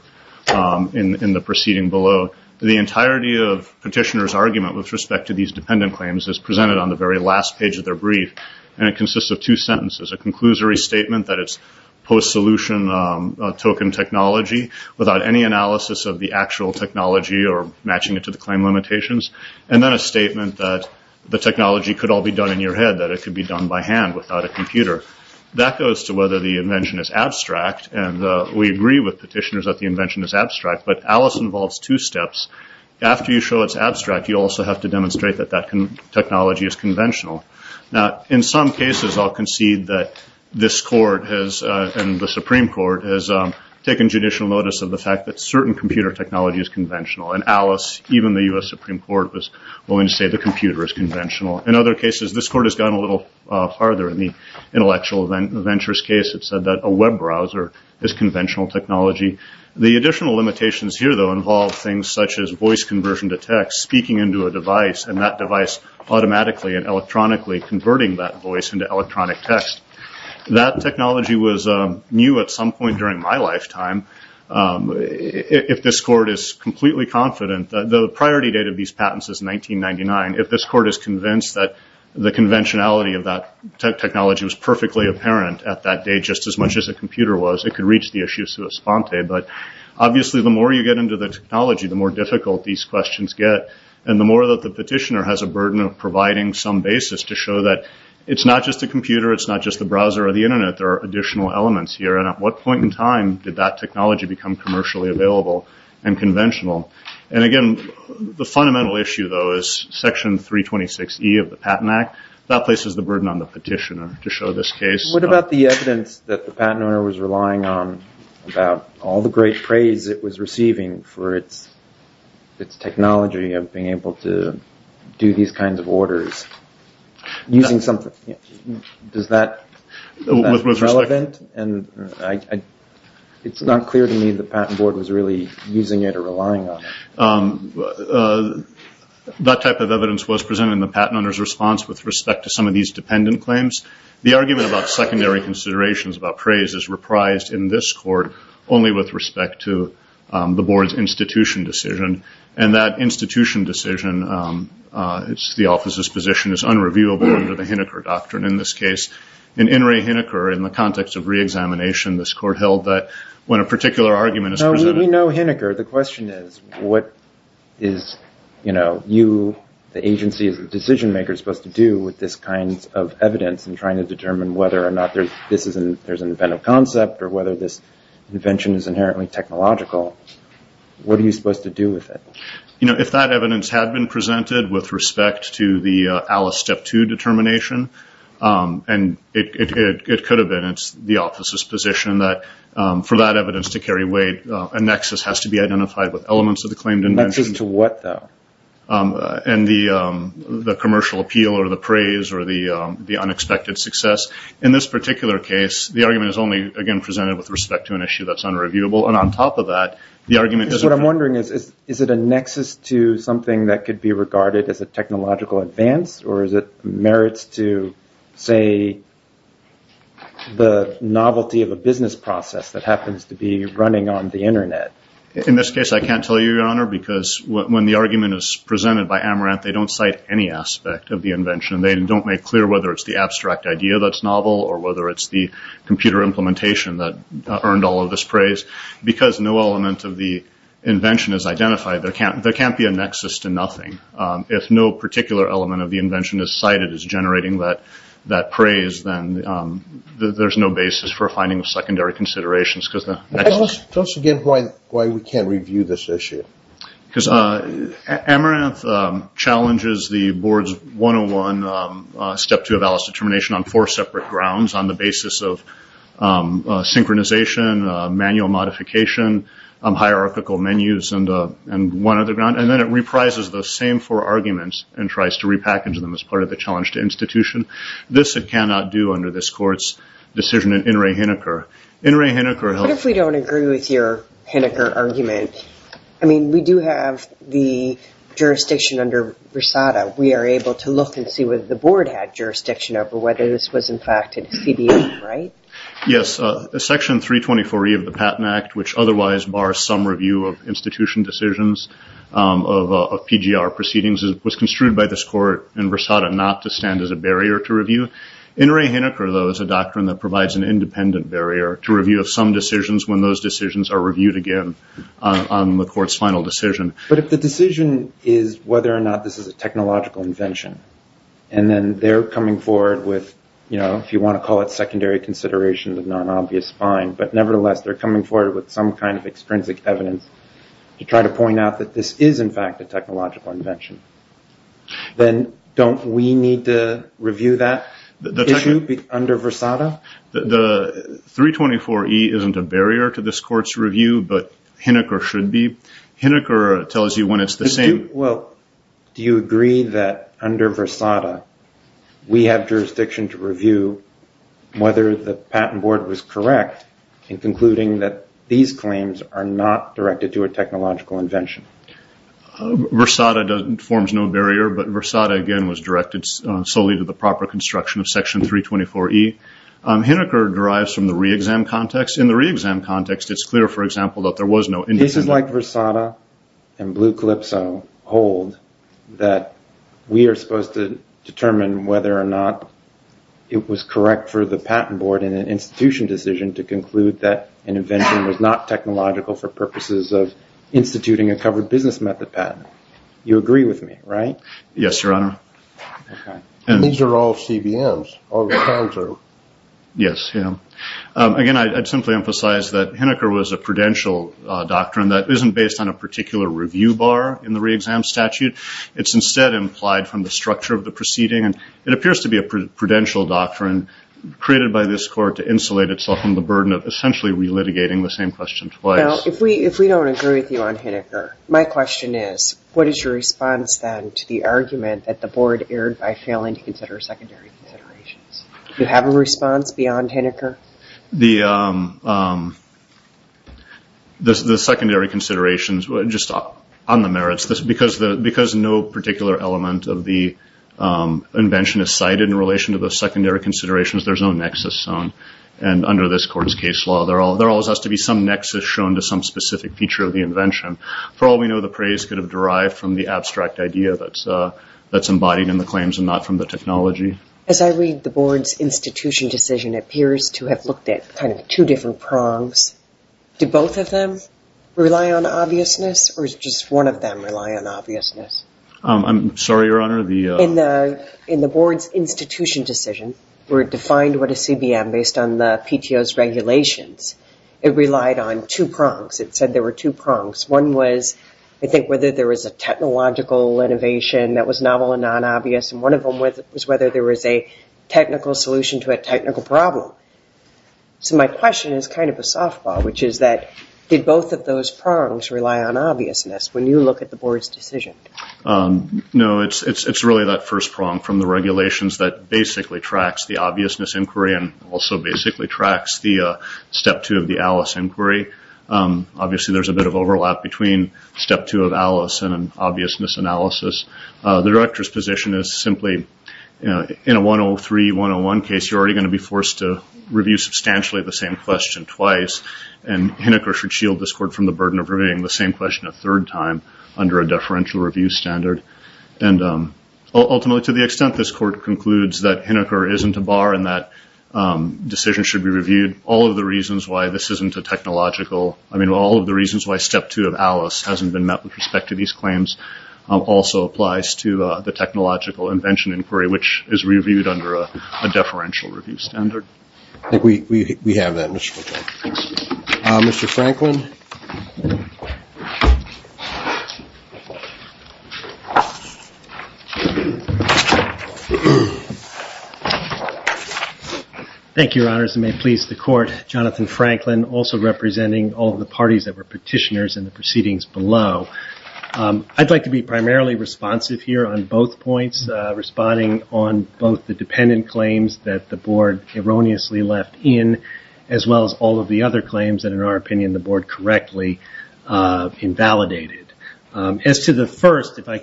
in the proceeding below. The entirety of the petitioner's argument with respect to these dependent claims is presented on the very last page of their brief, and it consists of two sentences, a conclusory statement that it's post-solution token technology without any analysis of the actual technology or matching it to the claim limitations, and then a statement that the technology could all be done in your head, that it could be done by hand without a computer. That goes to whether the invention is abstract, and we agree with petitioners that the invention is abstract, but Alice involves two steps. After you show it's abstract, you also have to demonstrate that that technology is conventional. Now, in some cases, I'll concede that this court and the Supreme Court has taken judicial notice of the fact that certain computer technology is conventional, and Alice, even the U.S. Supreme Court, was willing to say the computer is conventional. In other cases, this court has gone a little farther in the intellectual ventures case that said that a web browser is conventional technology. The additional limitations here, though, involve things such as voice conversion to text, speaking into a device, and that device automatically and electronically converting that voice into electronic text. That technology was new at some point during my lifetime. If this court is completely confident that the priority date of these patents is 1999, if this court is convinced that the conventionality of that technology was perfectly apparent at that day just as much as a computer was, it could reach the issues to a sponte, Obviously, the more you get into the technology, the more difficult these questions get, and the more that the petitioner has a burden of providing some basis to show that it's not just a computer, it's not just a browser or the Internet. There are additional elements here, and at what point in time did that technology become commercially available and conventional? Again, the fundamental issue, though, is Section 326E of the Patent Act. That places the burden on the petitioner to show this case. What about the evidence that the patent owner was relying on about all the great praise it was receiving for its technology of being able to do these kinds of orders? It's not clear to me the Patent Board was really using it or relying on it. That type of evidence was presented in the patent owner's response with respect to some of these dependent claims. The argument about secondary considerations about praise is reprised in this court only with respect to the Board's institution decision, and that institution decision, the office's position, is unrevealable under the Hineker Doctrine in this case. In In re Hineker, in the context of re-examination, this court held that when a particular argument is presented... No, we know Hineker. The question is what is, you know, you, the agency, the decision-maker, supposed to do with this kind of evidence in trying to determine whether or not there's an event of concept or whether this invention is inherently technological? What are you supposed to do with it? You know, if that evidence had been presented with respect to the Alice Step 2 determination, it could have been the office's position that for that evidence to carry weight, a nexus has to be identified with elements of the claimed invention. A nexus to what, though? And the commercial appeal or the praise or the unexpected success. In this particular case, the argument is only, again, presented with respect to an issue that's unreviewable, and on top of that, the argument doesn't... What I'm wondering is, is it a nexus to something that could be regarded as a technological advance, or is it merits to, say, the novelty of a business process that happens to be running on the Internet? In this case, I can't tell you, Your Honor, because when the argument is presented by Amaranth, they don't cite any aspect of the invention. They don't make clear whether it's the abstract idea that's novel or whether it's the computer implementation that earned all of this praise. Because no element of the invention is identified, there can't be a nexus to nothing. If no particular element of the invention is cited as generating that praise, then there's no basis for finding secondary considerations, Tell us again why we can't review this issue. Because Amaranth challenges the Board's 101, Step 2 of Alice's Determination, on four separate grounds, on the basis of synchronization, manual modification, hierarchical menus, and one other ground, and then it reprises those same four arguments and tries to repackage them as part of the challenge to institution. This it cannot do under this Court's decision in In re Hineker. In re Hineker... What if we don't agree with your Hineker argument? I mean, we do have the jurisdiction under Brasada. We are able to look and see whether the Board had jurisdiction over whether this was in fact a CDM, right? Yes, Section 324E of the Patent Act, which otherwise bars some review of institution decisions of PGR proceedings, was construed by this Court in Brasada not to stand as a barrier to review. In re Hineker, though, is a doctrine that provides an independent barrier to review of some decisions when those decisions are reviewed again on the Court's final decision. But if the decision is whether or not this is a technological invention, and then they're coming forward with, you know, if you want to call it secondary consideration but not an obvious fine, but nevertheless they're coming forward with some kind of extrinsic evidence to try to point out that this is in fact a technological invention, then don't we need to review that issue under Brasada? The 324E isn't a barrier to this Court's review, but Hineker should be. Hineker tells you when it's the same. Well, do you agree that under Brasada, we have jurisdiction to review whether the Patent Board was correct in concluding that these claims are not directed to a technological invention? Brasada forms no barrier, but Brasada, again, was directed solely to the proper construction of Section 324E. Hineker derives from the re-exam context. In the re-exam context, it's clear, for example, that there was no independent... This is like Brasada and Blue Calypso hold that we are supposed to determine whether or not it was correct for the Patent Board in an institution decision to conclude that an invention was not technological for purposes of instituting a covered business method patent. You agree with me, right? Yes, Your Honor. These are all CBMs. Yes. Again, I'd simply emphasize that Hineker was a prudential doctrine that isn't based on a particular review bar in the re-exam statute. It's instead implied from the structure of the proceeding. It appears to be a prudential doctrine created by this Court to insulate itself from the burden of essentially re-litigating the same question twice. If we don't agree with you on Hineker, my question is, what is your response then to the argument that the Board erred by failing to consider secondary considerations? Do you have a response beyond Hineker? The secondary considerations, just on the merits, because no particular element of the invention is cited in relation to the secondary considerations, there's no nexus. Under this Court's case law, there always has to be some nexus shown to some specific feature of the invention. For all we know, the praise could have derived from the abstract idea that's embodied in the claims and not from the technology. As I read the Board's institution decision, it appears to have looked at two different prongs. Do both of them rely on obviousness, or does just one of them rely on obviousness? I'm sorry, Your Honor. In the Board's institution decision, where it defined what a CBM, based on the PTO's regulations, it relied on two prongs. It said there were two prongs. One was, I think, whether there was a technological innovation that was novel and non-obvious, and one of them was whether there was a technical solution to a technical problem. So my question is kind of a softball, which is that, did both of those prongs rely on obviousness when you look at the Board's decision? No, it's really that first prong from the regulations that basically tracks the obviousness inquiry and also basically tracks the Step 2 of the ALICE inquiry. Obviously, there's a bit of overlap between Step 2 of ALICE and an obviousness analysis. The Director's position is simply, in a 103-101 case, you're already going to be forced to review substantially the same question twice, and Hinoch or Shield discord from the burden of reviewing the same question a third time under a deferential review standard. Ultimately, to the extent this Court concludes that Hinoch or isn't a bar and that decisions should be reviewed, all of the reasons why this isn't a technological, I mean, all of the reasons why Step 2 of ALICE hasn't been met with respect to these claims also applies to the technological invention inquiry, which is reviewed under a deferential review standard. I think we have that, Mr. Franklin. Mr. Franklin? Thank you, Your Honors, and may it please the Court, Jonathan Franklin also representing all of the parties that were petitioners in the proceedings below. I'd like to be primarily responsive here on both points, responding on both the dependent claims that the Board erroneously left in, as well as all of the other claims that, in our opinion, the Board correctly invalidated. As to the first, I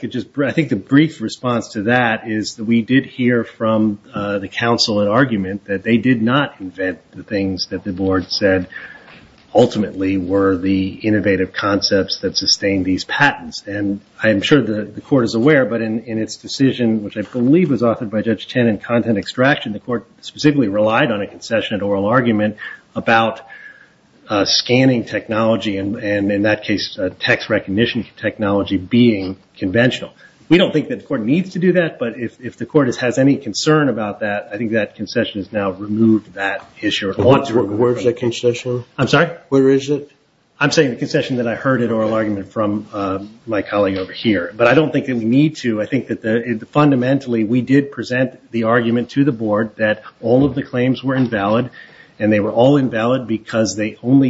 think the brief response to that is that we did hear from the Council an argument that they did not invent the things that the Board said ultimately were the innovative concepts that sustained these patents. And I'm sure the Court is aware, but in its decision, which I believe was authored by Judge Tannen in content extraction, the Court specifically relied on a concession at oral argument about scanning technology and, in that case, text recognition technology being conventional. We don't think that the Court needs to do that, but if the Court has any concern about that, I think that concession has now removed that issue at once. Where's the concession? I'm sorry? Where is it? I'm saying the concession that I heard at oral argument from my colleague over here. But I don't think that we need to. I think that, fundamentally, we did present the argument to the Board that all of the claims were invalid, and they were all invalid because they only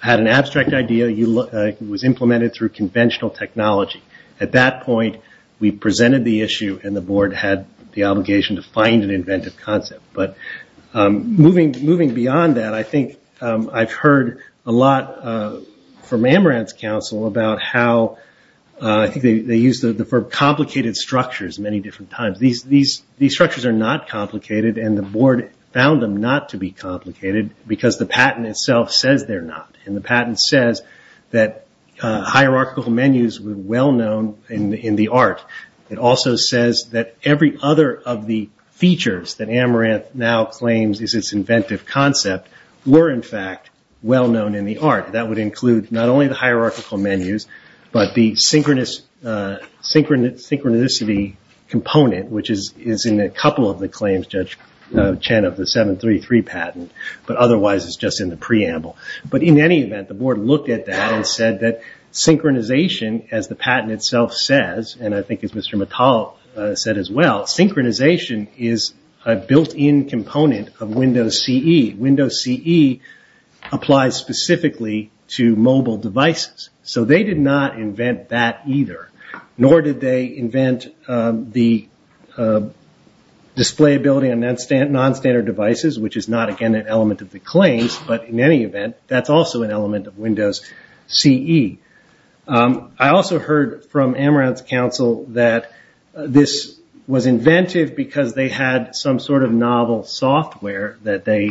had an abstract idea. It was implemented through conventional technology. At that point, we presented the issue, and the Board had the obligation to find an inventive concept. Moving beyond that, I think I've heard a lot from Amaranth Council about how they use the term complicated structures many different times. These structures are not complicated, and the Board found them not to be complicated because the patent itself says they're not. The patent says that hierarchical menus were well-known in the art. It also says that every other of the features that Amaranth now claims is its inventive concept were, in fact, well-known in the art. That would include not only the hierarchical menus, but the synchronicity component, which is in a couple of the claims, Judge Chen, of the 733 patent. But otherwise, it's just in the preamble. But in any event, the Board looked at that and said that synchronization, as the patent itself says, and I think as Mr. McCollough said as well, synchronization is a built-in component of Windows CE. Windows CE applies specifically to mobile devices. So they did not invent that either, nor did they invent the displayability on nonstandard devices, which is not, again, an element of the claims. But in any event, that's also an element of Windows CE. I also heard from Amaranth Council that this was invented because they had some sort of novel software that they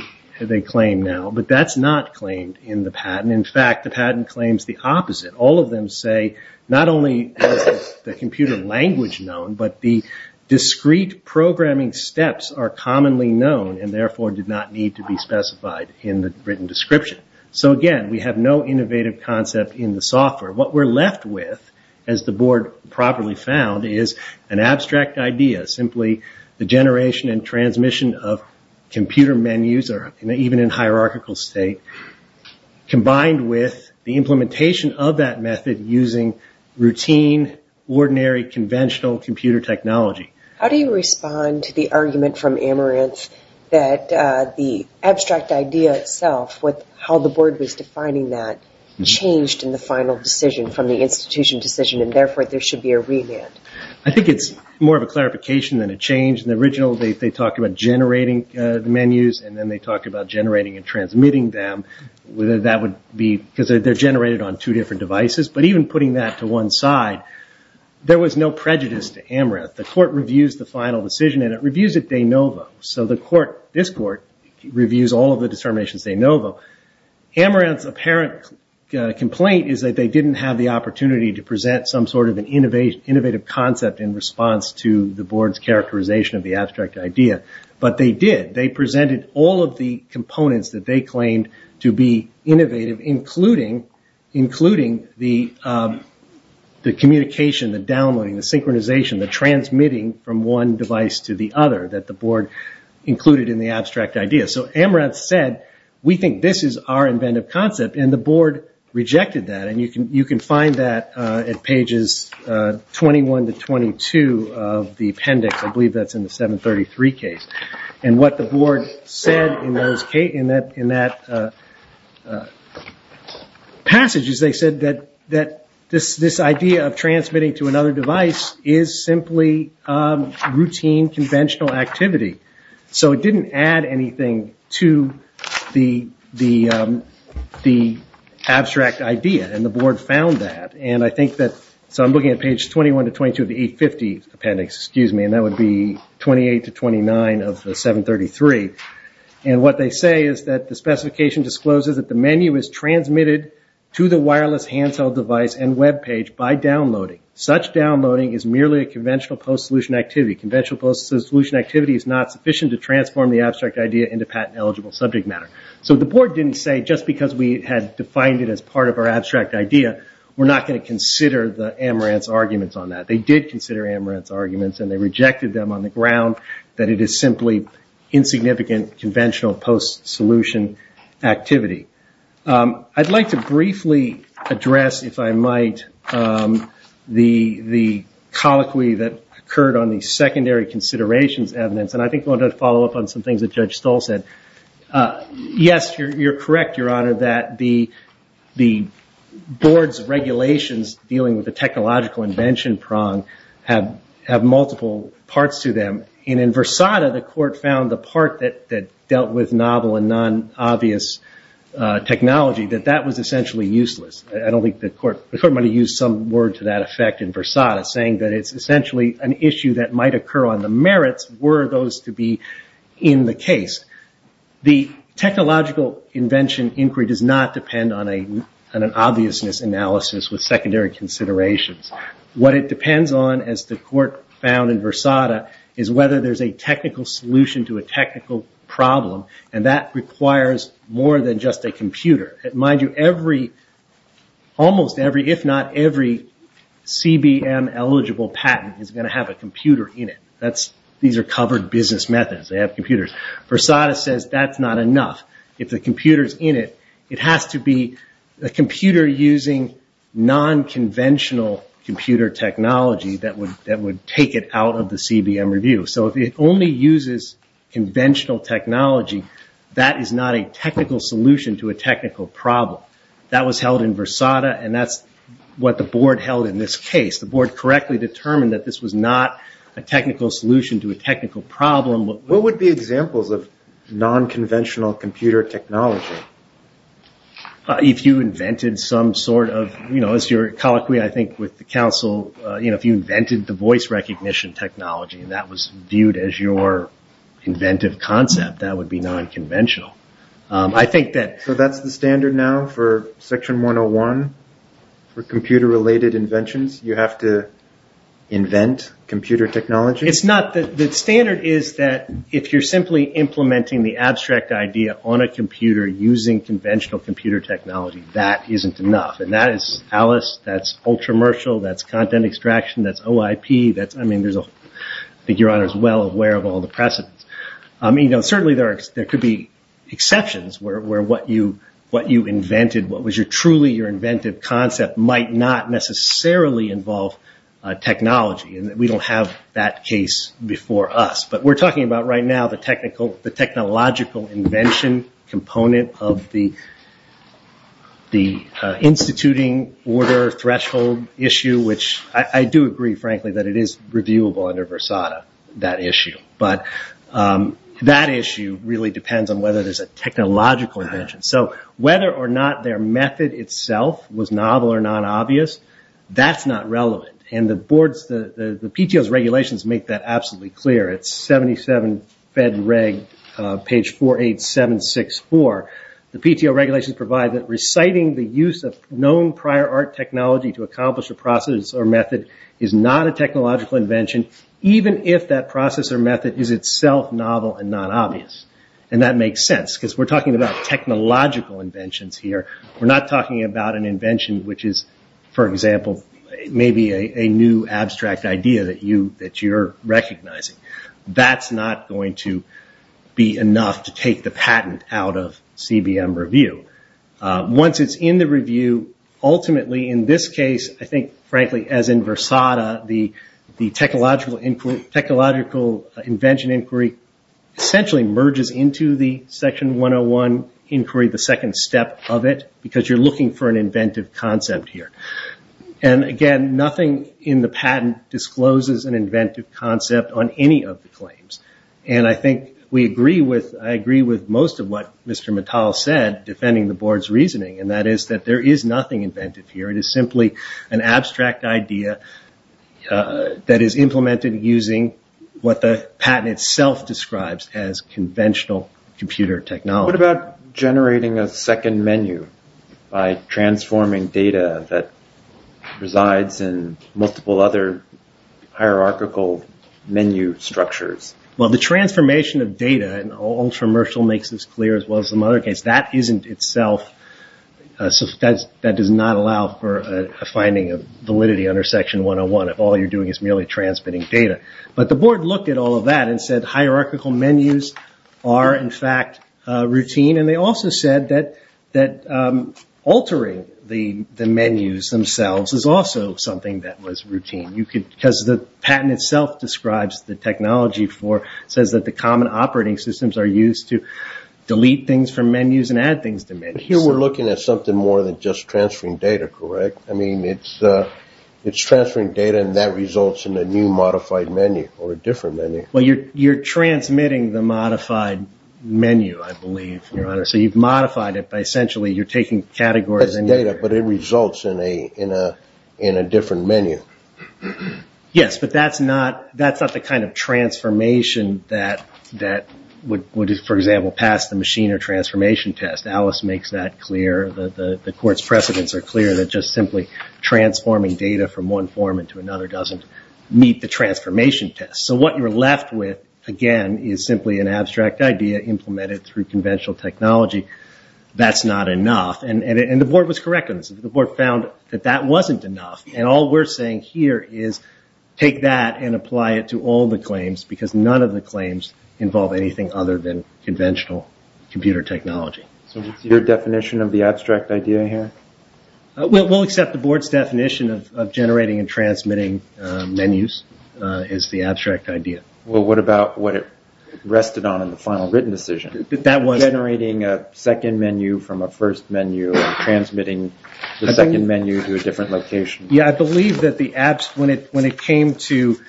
claim now, but that's not claimed in the patent. In fact, the patent claims the opposite. All of them say not only is the computer language known, but the discrete programming steps are commonly known and therefore did not need to be specified in the written description. So again, we have no innovative concept in the software. What we're left with, as the Board probably found, is an abstract idea, simply the generation and transmission of computer menus, or even in hierarchical state, combined with the implementation of that method using routine, ordinary, conventional computer technology. How do you respond to the argument from Amaranth that the abstract idea itself, how the Board was defining that, changed in the final decision, from the institution decision, and therefore there should be a revamp? I think it's more of a clarification than a change. In the original, they talked about generating menus, and then they talked about generating and transmitting them, whether that would be because they're generated on two different devices. But even putting that to one side, there was no prejudice to Amaranth. The Court reviews the final decision, and it reviews it de novo. So this Court reviews all of the determinations de novo. Amaranth's apparent complaint is that they didn't have the opportunity to present some sort of an innovative concept in response to the Board's characterization of the abstract idea. But they did. They presented all of the components that they claimed to be innovative, including the communication, the downloading, the synchronization, the transmitting from one device to the other that the Board included in the abstract idea. So Amaranth said, we think this is our inventive concept, and the Board rejected that. And you can find that at pages 21 to 22 of the appendix. I believe that's in the 733 case. And what the Board said in that passage is they said that this idea of transmitting to another device is simply routine, conventional activity. So it didn't add anything to the abstract idea, and the Board found that. So I'm looking at pages 21 to 22 of the 850 appendix, and that would be 28 to 29 of the 733. And what they say is that the specification discloses that the menu is transmitted to the wireless handheld device and web page by downloading. Such downloading is merely a conventional post-solution activity. Conventional post-solution activity is not sufficient to transform the abstract idea into patent-eligible subject matter. So the Board didn't say, just because we had defined it as part of our abstract idea, we're not going to consider the Amaranth's arguments on that. They did consider Amaranth's arguments, and they rejected them on the ground, that it is simply insignificant conventional post-solution activity. I'd like to briefly address, if I might, the colloquy that occurred on the secondary considerations evidence, and I think I want to follow up on some things that Judge Stoll said. Yes, you're correct, Your Honor, that the Board's regulations dealing with the technological invention prong have multiple parts to them. And in Versada, the Court found the part that dealt with novel and non-obvious technology, that that was essentially useless. I don't think the Court might have used some word to that effect in Versada, saying that it's essentially an issue that might occur on the merits were those to be in the case. The technological invention inquiry does not depend on an obviousness analysis with secondary considerations. What it depends on, as the Court found in Versada, is whether there's a technical solution to a technical problem, and that requires more than just a computer. Mind you, almost every, if not every, CBM-eligible patent is going to have a computer in it. These are covered business methods. They have computers. Versada says that's not enough. If the computer's in it, it has to be a computer using non-conventional computer technology that would take it out of the CBM review. So if it only uses conventional technology, that is not a technical solution to a technical problem. That was held in Versada, and that's what the Board held in this case. The Board correctly determined that this was not a technical solution to a technical problem. What would be examples of non-conventional computer technology? If you invented some sort of, you know, as you're colloquy, I think, with the Council, you know, if you invented the voice recognition technology and that was viewed as your inventive concept, that would be non-conventional. I think that... So that's the standard now for Section 101 for computer-related inventions? You have to invent computer technology? It's not. The standard is that if you're simply implementing the abstract idea on a computer using conventional computer technology, that isn't enough. And that is Alice. That's ultra-mercial. That's content extraction. That's OIP. That's... I mean, there's a... I think Your Honor is well aware of all the precedents. I mean, you know, certainly there could be exceptions where what you invented, what was truly your inventive concept might not necessarily involve technology, and we don't have that case before us. But we're talking about right now the technological invention component of the instituting order threshold issue, which I do agree, frankly, that it is redeemable under Versada, that issue. But that issue really depends on whether there's a technological invention. So whether or not their method itself was novel or non-obvious, that's not relevant. And the PTO's regulations make that absolutely clear. It's 77 Fed Reg, page 48764. The PTO regulations provide that reciting the use of known prior art technology to accomplish a process or method is not a technological invention, even if that process or method is itself novel and non-obvious. And that makes sense because we're talking about technological inventions here. We're not talking about an invention which is, for example, maybe a new abstract idea that you're recognizing. That's not going to be enough to take the patent out of CBM review. Once it's in the review, ultimately in this case, I think, frankly, as in Versada, the technological invention inquiry essentially merges into the Section 101 inquiry, the second step of it, because you're looking for an inventive concept here. And again, nothing in the patent discloses an inventive concept on any of the claims. And I think we agree with, I agree with most of what Mr. Mittal said, defending the board's reasoning, and that is that there is nothing inventive here. It is simply an abstract idea that is implemented using what the patent itself describes as conventional computer technology. What about generating a second menu by transforming data that resides in multiple other hierarchical menu structures? Well, the transformation of data, and Ultramershal makes this clear as well as some other cases, that isn't itself, that does not allow for a finding of validity under Section 101. All you're doing is merely transmitting data. But the board looked at all of that and said hierarchical menus are, in fact, routine. And they also said that altering the menus themselves is also something that was routine. Because the patent itself describes the technology for, says that the common operating systems are used to delete things from menus and add things to menus. Here we're looking at something more than just transferring data, correct? I mean, it's transferring data and that results in a new modified menu or a different menu. Well, you're transmitting the modified menu, I believe. So you've modified it by essentially you're taking categories and data. But it results in a different menu. Yes, but that's not the kind of transformation that would, for example, pass the machine or transformation test. Alice makes that clear. The court's precedents are clear that just simply transforming data from one form into another doesn't meet the transformation test. So what you're left with, again, is simply an abstract idea implemented through conventional technology. That's not enough. And the board was correct in this. The board found that that wasn't enough. And all we're saying here is take that and apply it to all the claims because none of the claims involve anything other than conventional computer technology. So your definition of the abstract idea here? We'll accept the board's definition of generating and transmitting menus as the abstract idea. Well, what about what it rested on in the final written decision? Generating a second menu from a first menu and transmitting the second menu to a different location. Yeah, I believe that when it came to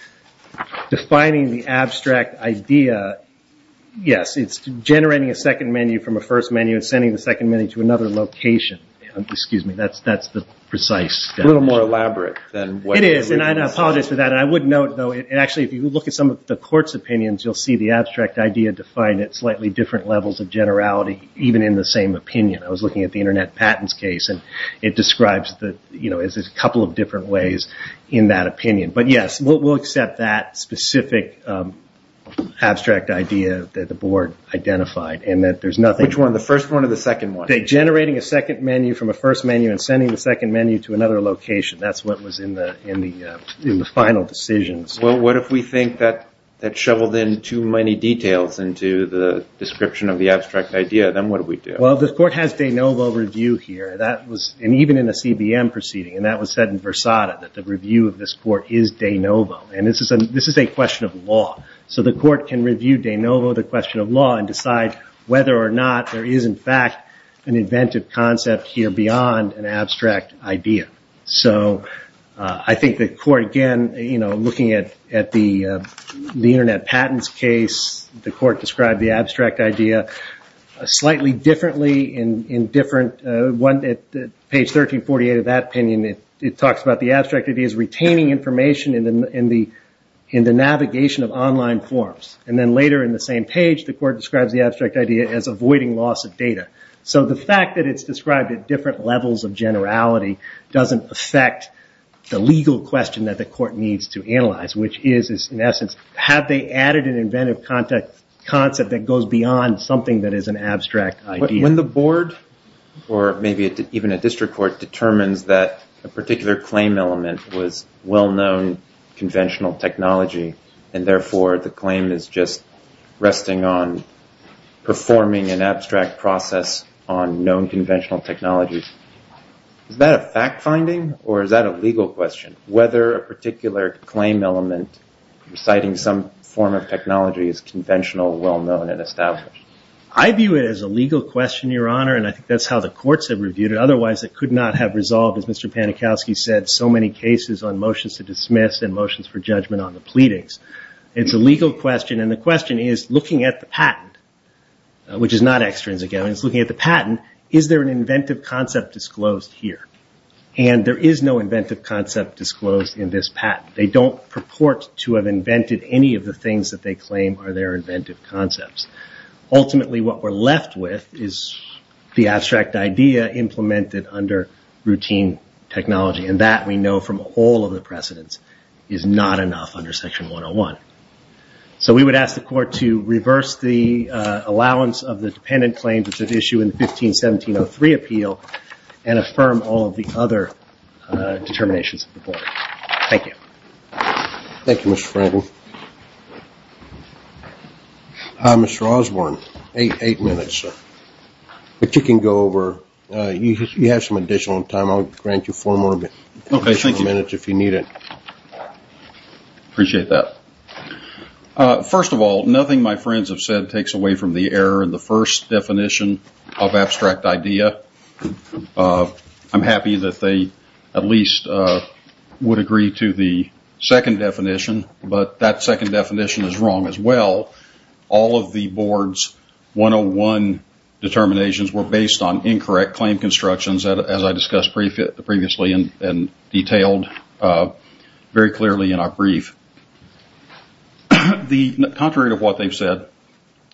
defining the abstract idea, yes, it's generating a second menu from a first menu and sending the second menu to another location. Excuse me, that's the precise definition. It's a little more elaborate. It is, and I apologize for that. I would note, though, actually, if you look at some of the court's opinions, you'll see the abstract idea defined at slightly different levels of generality, even in the same opinion. I was looking at the Internet Patents case, and it describes it as a couple of different ways in that opinion. But, yes, we'll accept that specific abstract idea that the board identified, and that there's nothing— Which one, the first one or the second one? Generating a second menu from a first menu and sending the second menu to another location. That's what was in the final decision. Well, what if we think that that shoveled in too many details into the description of the abstract idea? Then what do we do? Well, this court has de novo review here, and even in the CBM proceeding, and that was said in Versada, that the review of this court is de novo. And this is a question of law. So the court can review de novo the question of law and decide whether or not there is, in fact, an inventive concept here beyond an abstract idea. So I think the court, again, looking at the Internet Patents case, the court described the abstract idea slightly differently in different— Page 1348 of that opinion, it talks about the abstract ideas retaining information in the navigation of online forms. And then later in the same page, the court describes the abstract idea as avoiding loss of data. So the fact that it's described at different levels of generality doesn't affect the legal question that the court needs to analyze, which is, in essence, have they added an inventive concept that goes beyond something that is an abstract idea? When the board, or maybe even a district court, determines that a particular claim element was well-known conventional technology, and therefore the claim is just resting on performing an abstract process on known conventional technologies, is that a fact-finding or is that a legal question, whether a particular claim element citing some form of technology is conventional, well-known, and established? I view it as a legal question, Your Honor, and I think that's how the courts have reviewed it. Otherwise, it could not have resolved, as Mr. Panikowski said, so many cases on motions to dismiss and motions for judgment on the pleadings. It's a legal question, and the question is, looking at the patent, which is not extrinsic evidence, looking at the patent, is there an inventive concept disclosed here? And there is no inventive concept disclosed in this patent. They don't purport to have invented any of the things that they claim are their inventive concepts. Ultimately, what we're left with is the abstract idea implemented under routine technology, and that, we know from all of the precedents, is not enough under Section 101. So we would ask the court to reverse the allowance of the dependent claim to issue in 15-1703 appeal and affirm all of the other determinations of the board. Thank you. Thank you, Mr. Franklin. Mr. Osborne, eight minutes, but you can go over. You have some additional time. I'll grant you four more minutes if you need it. Okay. Thank you. Appreciate that. First of all, nothing my friends have said takes away from the error in the first definition of abstract idea. I'm happy that they at least would agree to the second definition, but that second definition is wrong as well. All of the board's 101 determinations were based on incorrect claim constructions, as I discussed previously and detailed very clearly in our brief. Contrary to what they've said,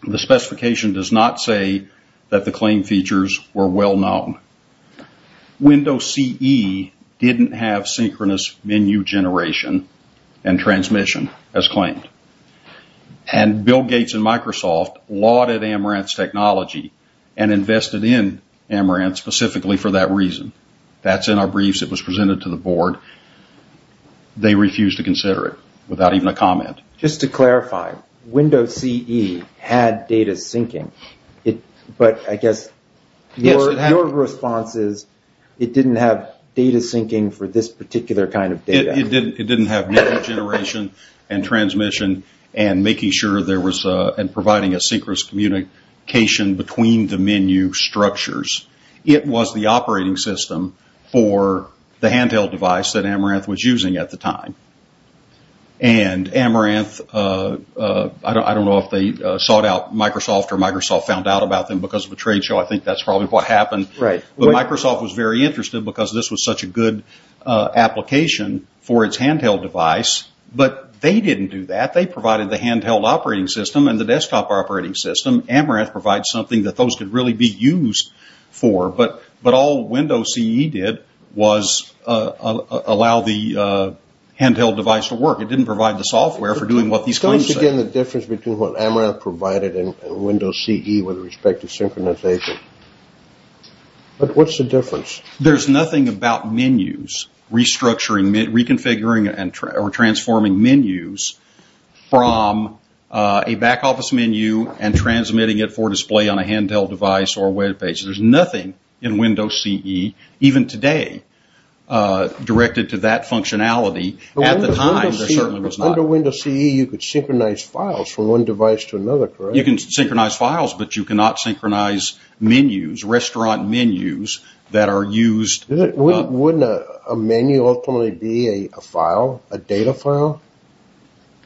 the specification does not say that the claim features were well known. Windows CE didn't have synchronous menu generation and transmission as claimed. And Bill Gates and Microsoft lauded Amaranth's technology and invested in Amaranth specifically for that reason. That's in our briefs that was presented to the board. They refused to consider it without even a comment. Just to clarify, Windows CE had data syncing, but I guess your response is it didn't have data syncing for this particular kind of data. It didn't have data generation and transmission and making sure there was and providing a synchronous communication between the menu structures. It was the operating system for the handheld device that Amaranth was using at the time. And Amaranth, I don't know if they sought out Microsoft or Microsoft found out about them because of the trade show. I think that's probably what happened. Right. But Microsoft was very interested because this was such a good application for its handheld device. But they didn't do that. They provided the handheld operating system and the desktop operating system. Amaranth provides something that those could really be used for. But all Windows CE did was allow the handheld device to work. It didn't provide the software for doing what these claims say. So once again, the difference between what Amaranth provided and Windows CE with respect to synchronization. What's the difference? There's nothing about menus, restructuring, reconfiguring or transforming menus from a back office menu and transmitting it for display on a handheld device or web page. There's nothing in Windows CE, even today, directed to that functionality. At the time, there certainly was not. Under Windows CE, you could synchronize files from one device to another, correct? You can synchronize files, but you cannot synchronize menus, restaurant menus that are used. Wouldn't a menu ultimately be a file, a data file?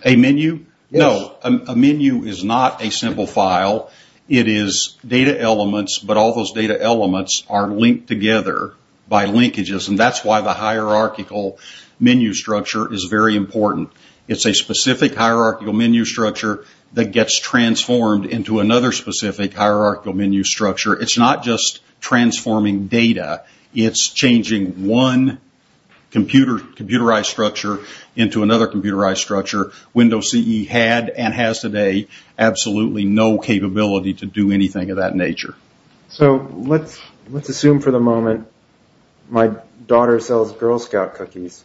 A menu? No. A menu is not a simple file. It is data elements. But all those data elements are linked together by linkages. And that's why the hierarchical menu structure is very important. It's a specific hierarchical menu structure that gets transformed into another specific hierarchical menu structure. It's not just transforming data. It's changing one computerized structure into another computerized structure. Windows CE had and has today absolutely no capability to do anything of that nature. So let's assume for the moment my daughter sells Girl Scout cookies.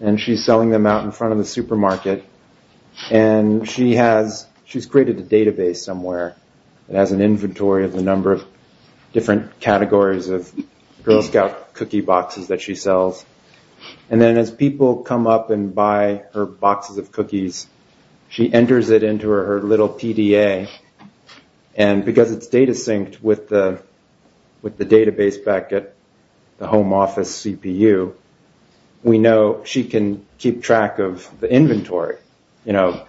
And she's selling them out in front of the supermarket. And she's created a database somewhere. It has an inventory of a number of different categories of Girl Scout cookie boxes that she sells. And then as people come up and buy her boxes of cookies, she enters it into her little PDA. And because it's data synced with the database back at the home office CPU, we know she can keep track of the inventory, you know,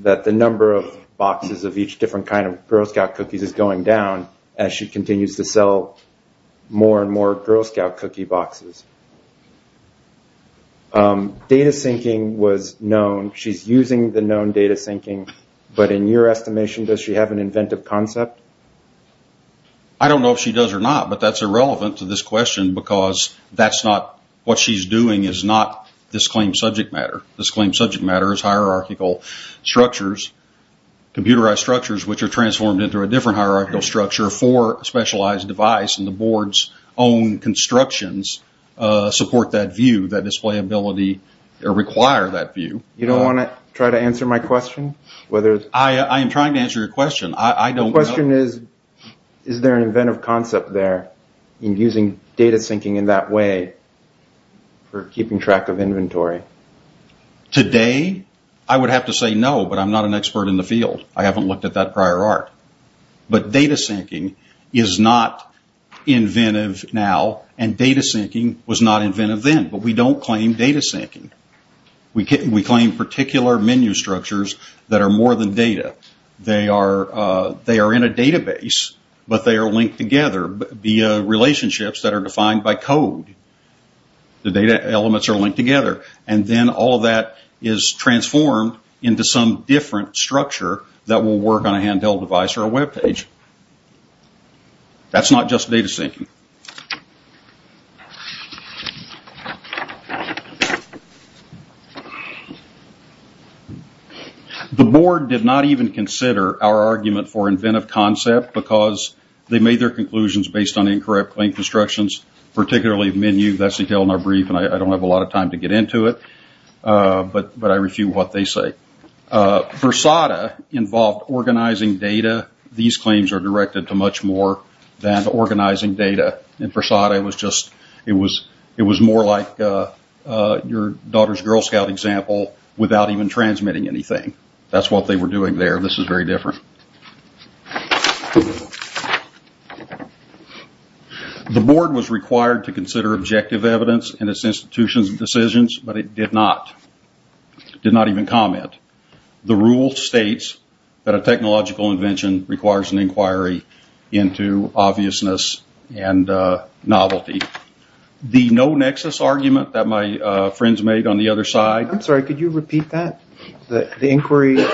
that the number of boxes of each different kind of Girl Scout cookies is going down as she continues to sell more and more Girl Scout cookie boxes. Data syncing was known. She's using the known data syncing. But in your estimation, does she have an inventive concept? I don't know if she does or not. But that's irrelevant to this question because that's not what she's doing. It's not this claimed subject matter. This claimed subject matter is hierarchical structures, computerized structures, which are transformed into a different hierarchical structure for a specialized device. And the board's own constructions support that view, that displayability, or require that view. You don't want to try to answer my question? I am trying to answer your question. The question is, is there an inventive concept there in using data syncing in that way for keeping track of inventory? Today, I would have to say no, but I'm not an expert in the field. I haven't looked at that prior art. But data syncing is not inventive now, and data syncing was not inventive then. But we don't claim data syncing. We claim particular menu structures that are more than data. They are in a database, but they are linked together via relationships that are defined by code. The data elements are linked together, and then all that is transformed into some different structure that will work on a handheld device or a web page. That's not just data syncing. The board did not even consider our argument for inventive concept, because they made their conclusions based on incorrect link instructions, particularly menu. That's a detail in our brief, and I don't have a lot of time to get into it. But I refute what they say. Fursada involved organizing data. These claims are directed to much more than organizing data. In Fursada, it was more like your daughter's Girl Scout example without even transmitting anything. That's what they were doing there. This is very different. The board was required to consider objective evidence in its institutions and decisions, but it did not. It did not even comment. The rule states that a technological invention requires an inquiry into obviousness and novelty. The no-nexus argument that my friends made on the other side... I'm sorry, could you repeat that? The inquiry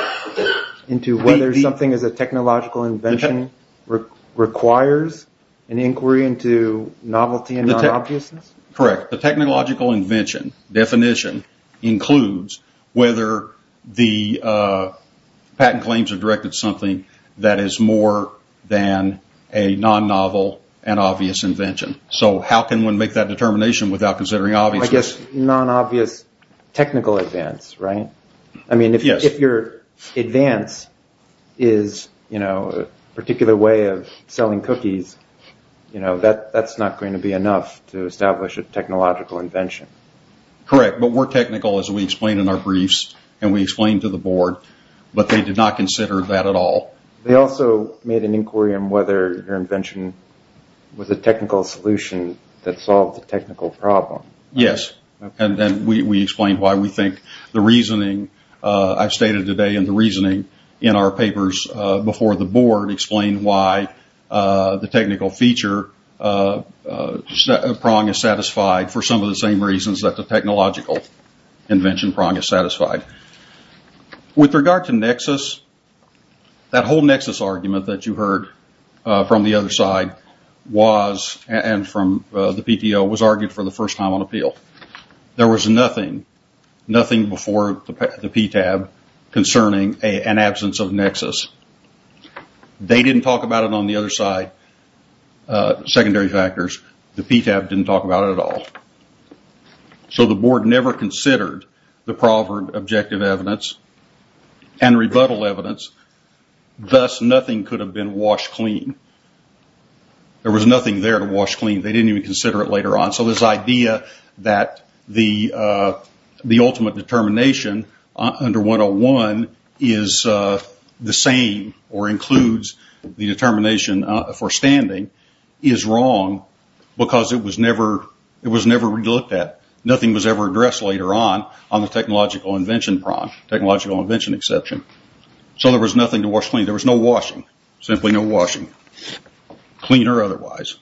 into whether something is a technological invention requires an inquiry into novelty and non-obviousness? Correct. The technological invention definition includes whether the patent claims are directed to something that is more than a non-novel and obvious invention. So how can one make that determination without considering obviousness? I guess non-obvious technical advance, right? Yes. If your advance is a particular way of selling cookies, that's not going to be enough to establish a technological invention. Correct, but we're technical as we explain in our briefs and we explain to the board, but they did not consider that at all. They also made an inquiry on whether your invention was a technical solution that solved a technical problem. Yes, and then we explain why we think the reasoning I've stated today and the reasoning in our papers before the board explain why the technical feature prong is satisfied for some of the same reasons that the technological invention prong is satisfied. With regard to nexus, that whole nexus argument that you heard from the other side was and from the PTO was argued for the first time on appeal. There was nothing, nothing before the PTAB concerning an absence of nexus. They didn't talk about it on the other side, secondary factors. The PTAB didn't talk about it at all. So the board never considered the proverb objective evidence and rebuttal evidence. Thus, nothing could have been washed clean. There was nothing there to wash clean. They didn't even consider it later on. So this idea that the ultimate determination under 101 is the same or includes the determination for standing is wrong because it was never looked at. Nothing was ever addressed later on on the technological invention prong, technological invention exception. So there was nothing to wash clean. There was no washing, simply no washing, clean or otherwise.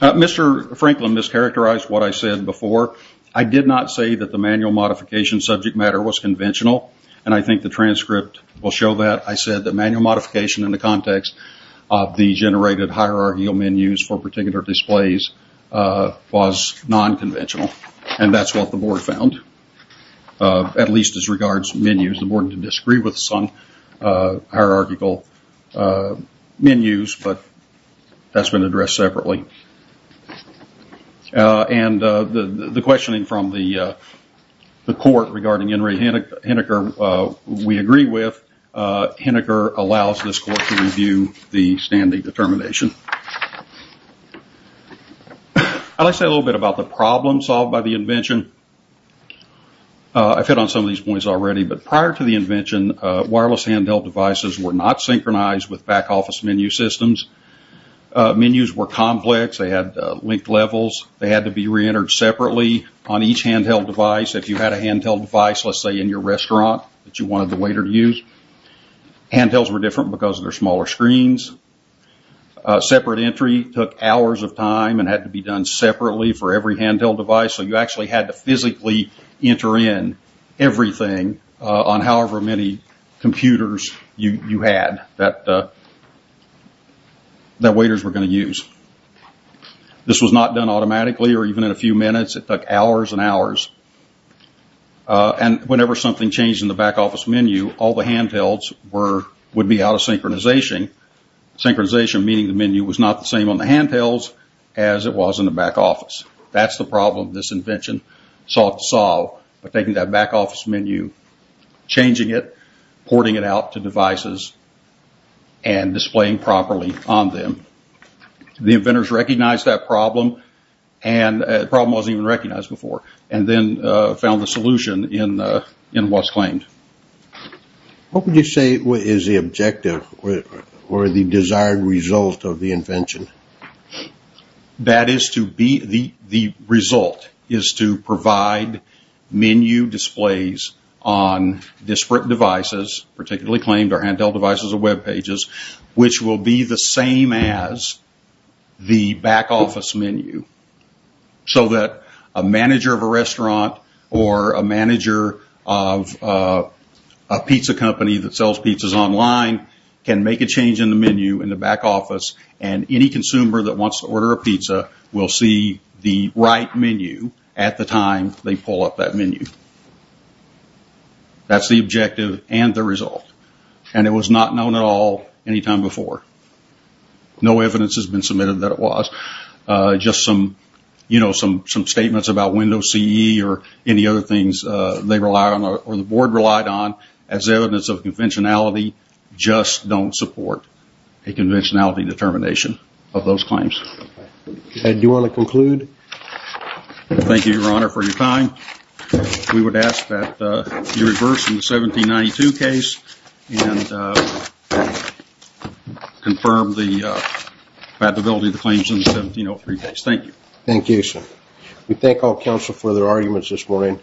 Mr. Franklin, this characterized what I said before. I did not say that the manual modification subject matter was conventional. And I think the transcript will show that. I said that manual modification in the context of the generated hierarchical menus for particular displays was nonconventional. And that's what the board found, at least as regards menus. The board disagreed with some hierarchical menus, but that's been addressed separately. And the questioning from the court regarding Henry Hinecker, we agree with. Hinecker allows this court to review the standing determination. I'd like to say a little bit about the problem solved by the invention. I've hit on some of these points already. But prior to the invention, wireless handheld devices were not synchronized with back office menu systems. Menus were complex. They had linked levels. They had to be reentered separately on each handheld device. If you had a handheld device, let's say, in your restaurant that you wanted the waiter to use. Handhelds were different because of their smaller screens. Separate entry took hours of time and had to be done separately for every handheld device. So you actually had to physically enter in everything on however many computers you had that waiters were going to use. This was not done automatically or even in a few minutes. It took hours and hours. And whenever something changed in the back office menu, all the handhelds would be out of synchronization. Synchronization, meaning the menu was not the same on the handhelds as it was in the back office. That's the problem this invention sought to solve. By taking that back office menu, changing it, porting it out to devices, and displaying properly on them. The inventors recognized that problem. And the problem wasn't even recognized before. And then found the solution in what's claimed. What would you say is the objective or the desired result of the invention? That is to be the result. Is to provide menu displays on disparate devices, particularly claimed or handheld devices or web pages, which will be the same as the back office menu. So that a manager of a restaurant or a manager of a pizza company that sells pizzas online can make a change in the menu in the back office. And any consumer that wants to order a pizza will see the right menu at the time they pull up that menu. That's the objective and the result. And it was not known at all any time before. No evidence has been submitted that it was. You know, some statements about Windows CE or any other things they rely on or the board relied on as evidence of conventionality just don't support a conventionality determination of those claims. Do you want to conclude? Thank you, Your Honor, for your time. We would ask that you reverse the 1792 case and confirm the credibility of the claims in the 1703 case. Thank you. Thank you, Your Honor. We thank all counsel for their arguments this morning.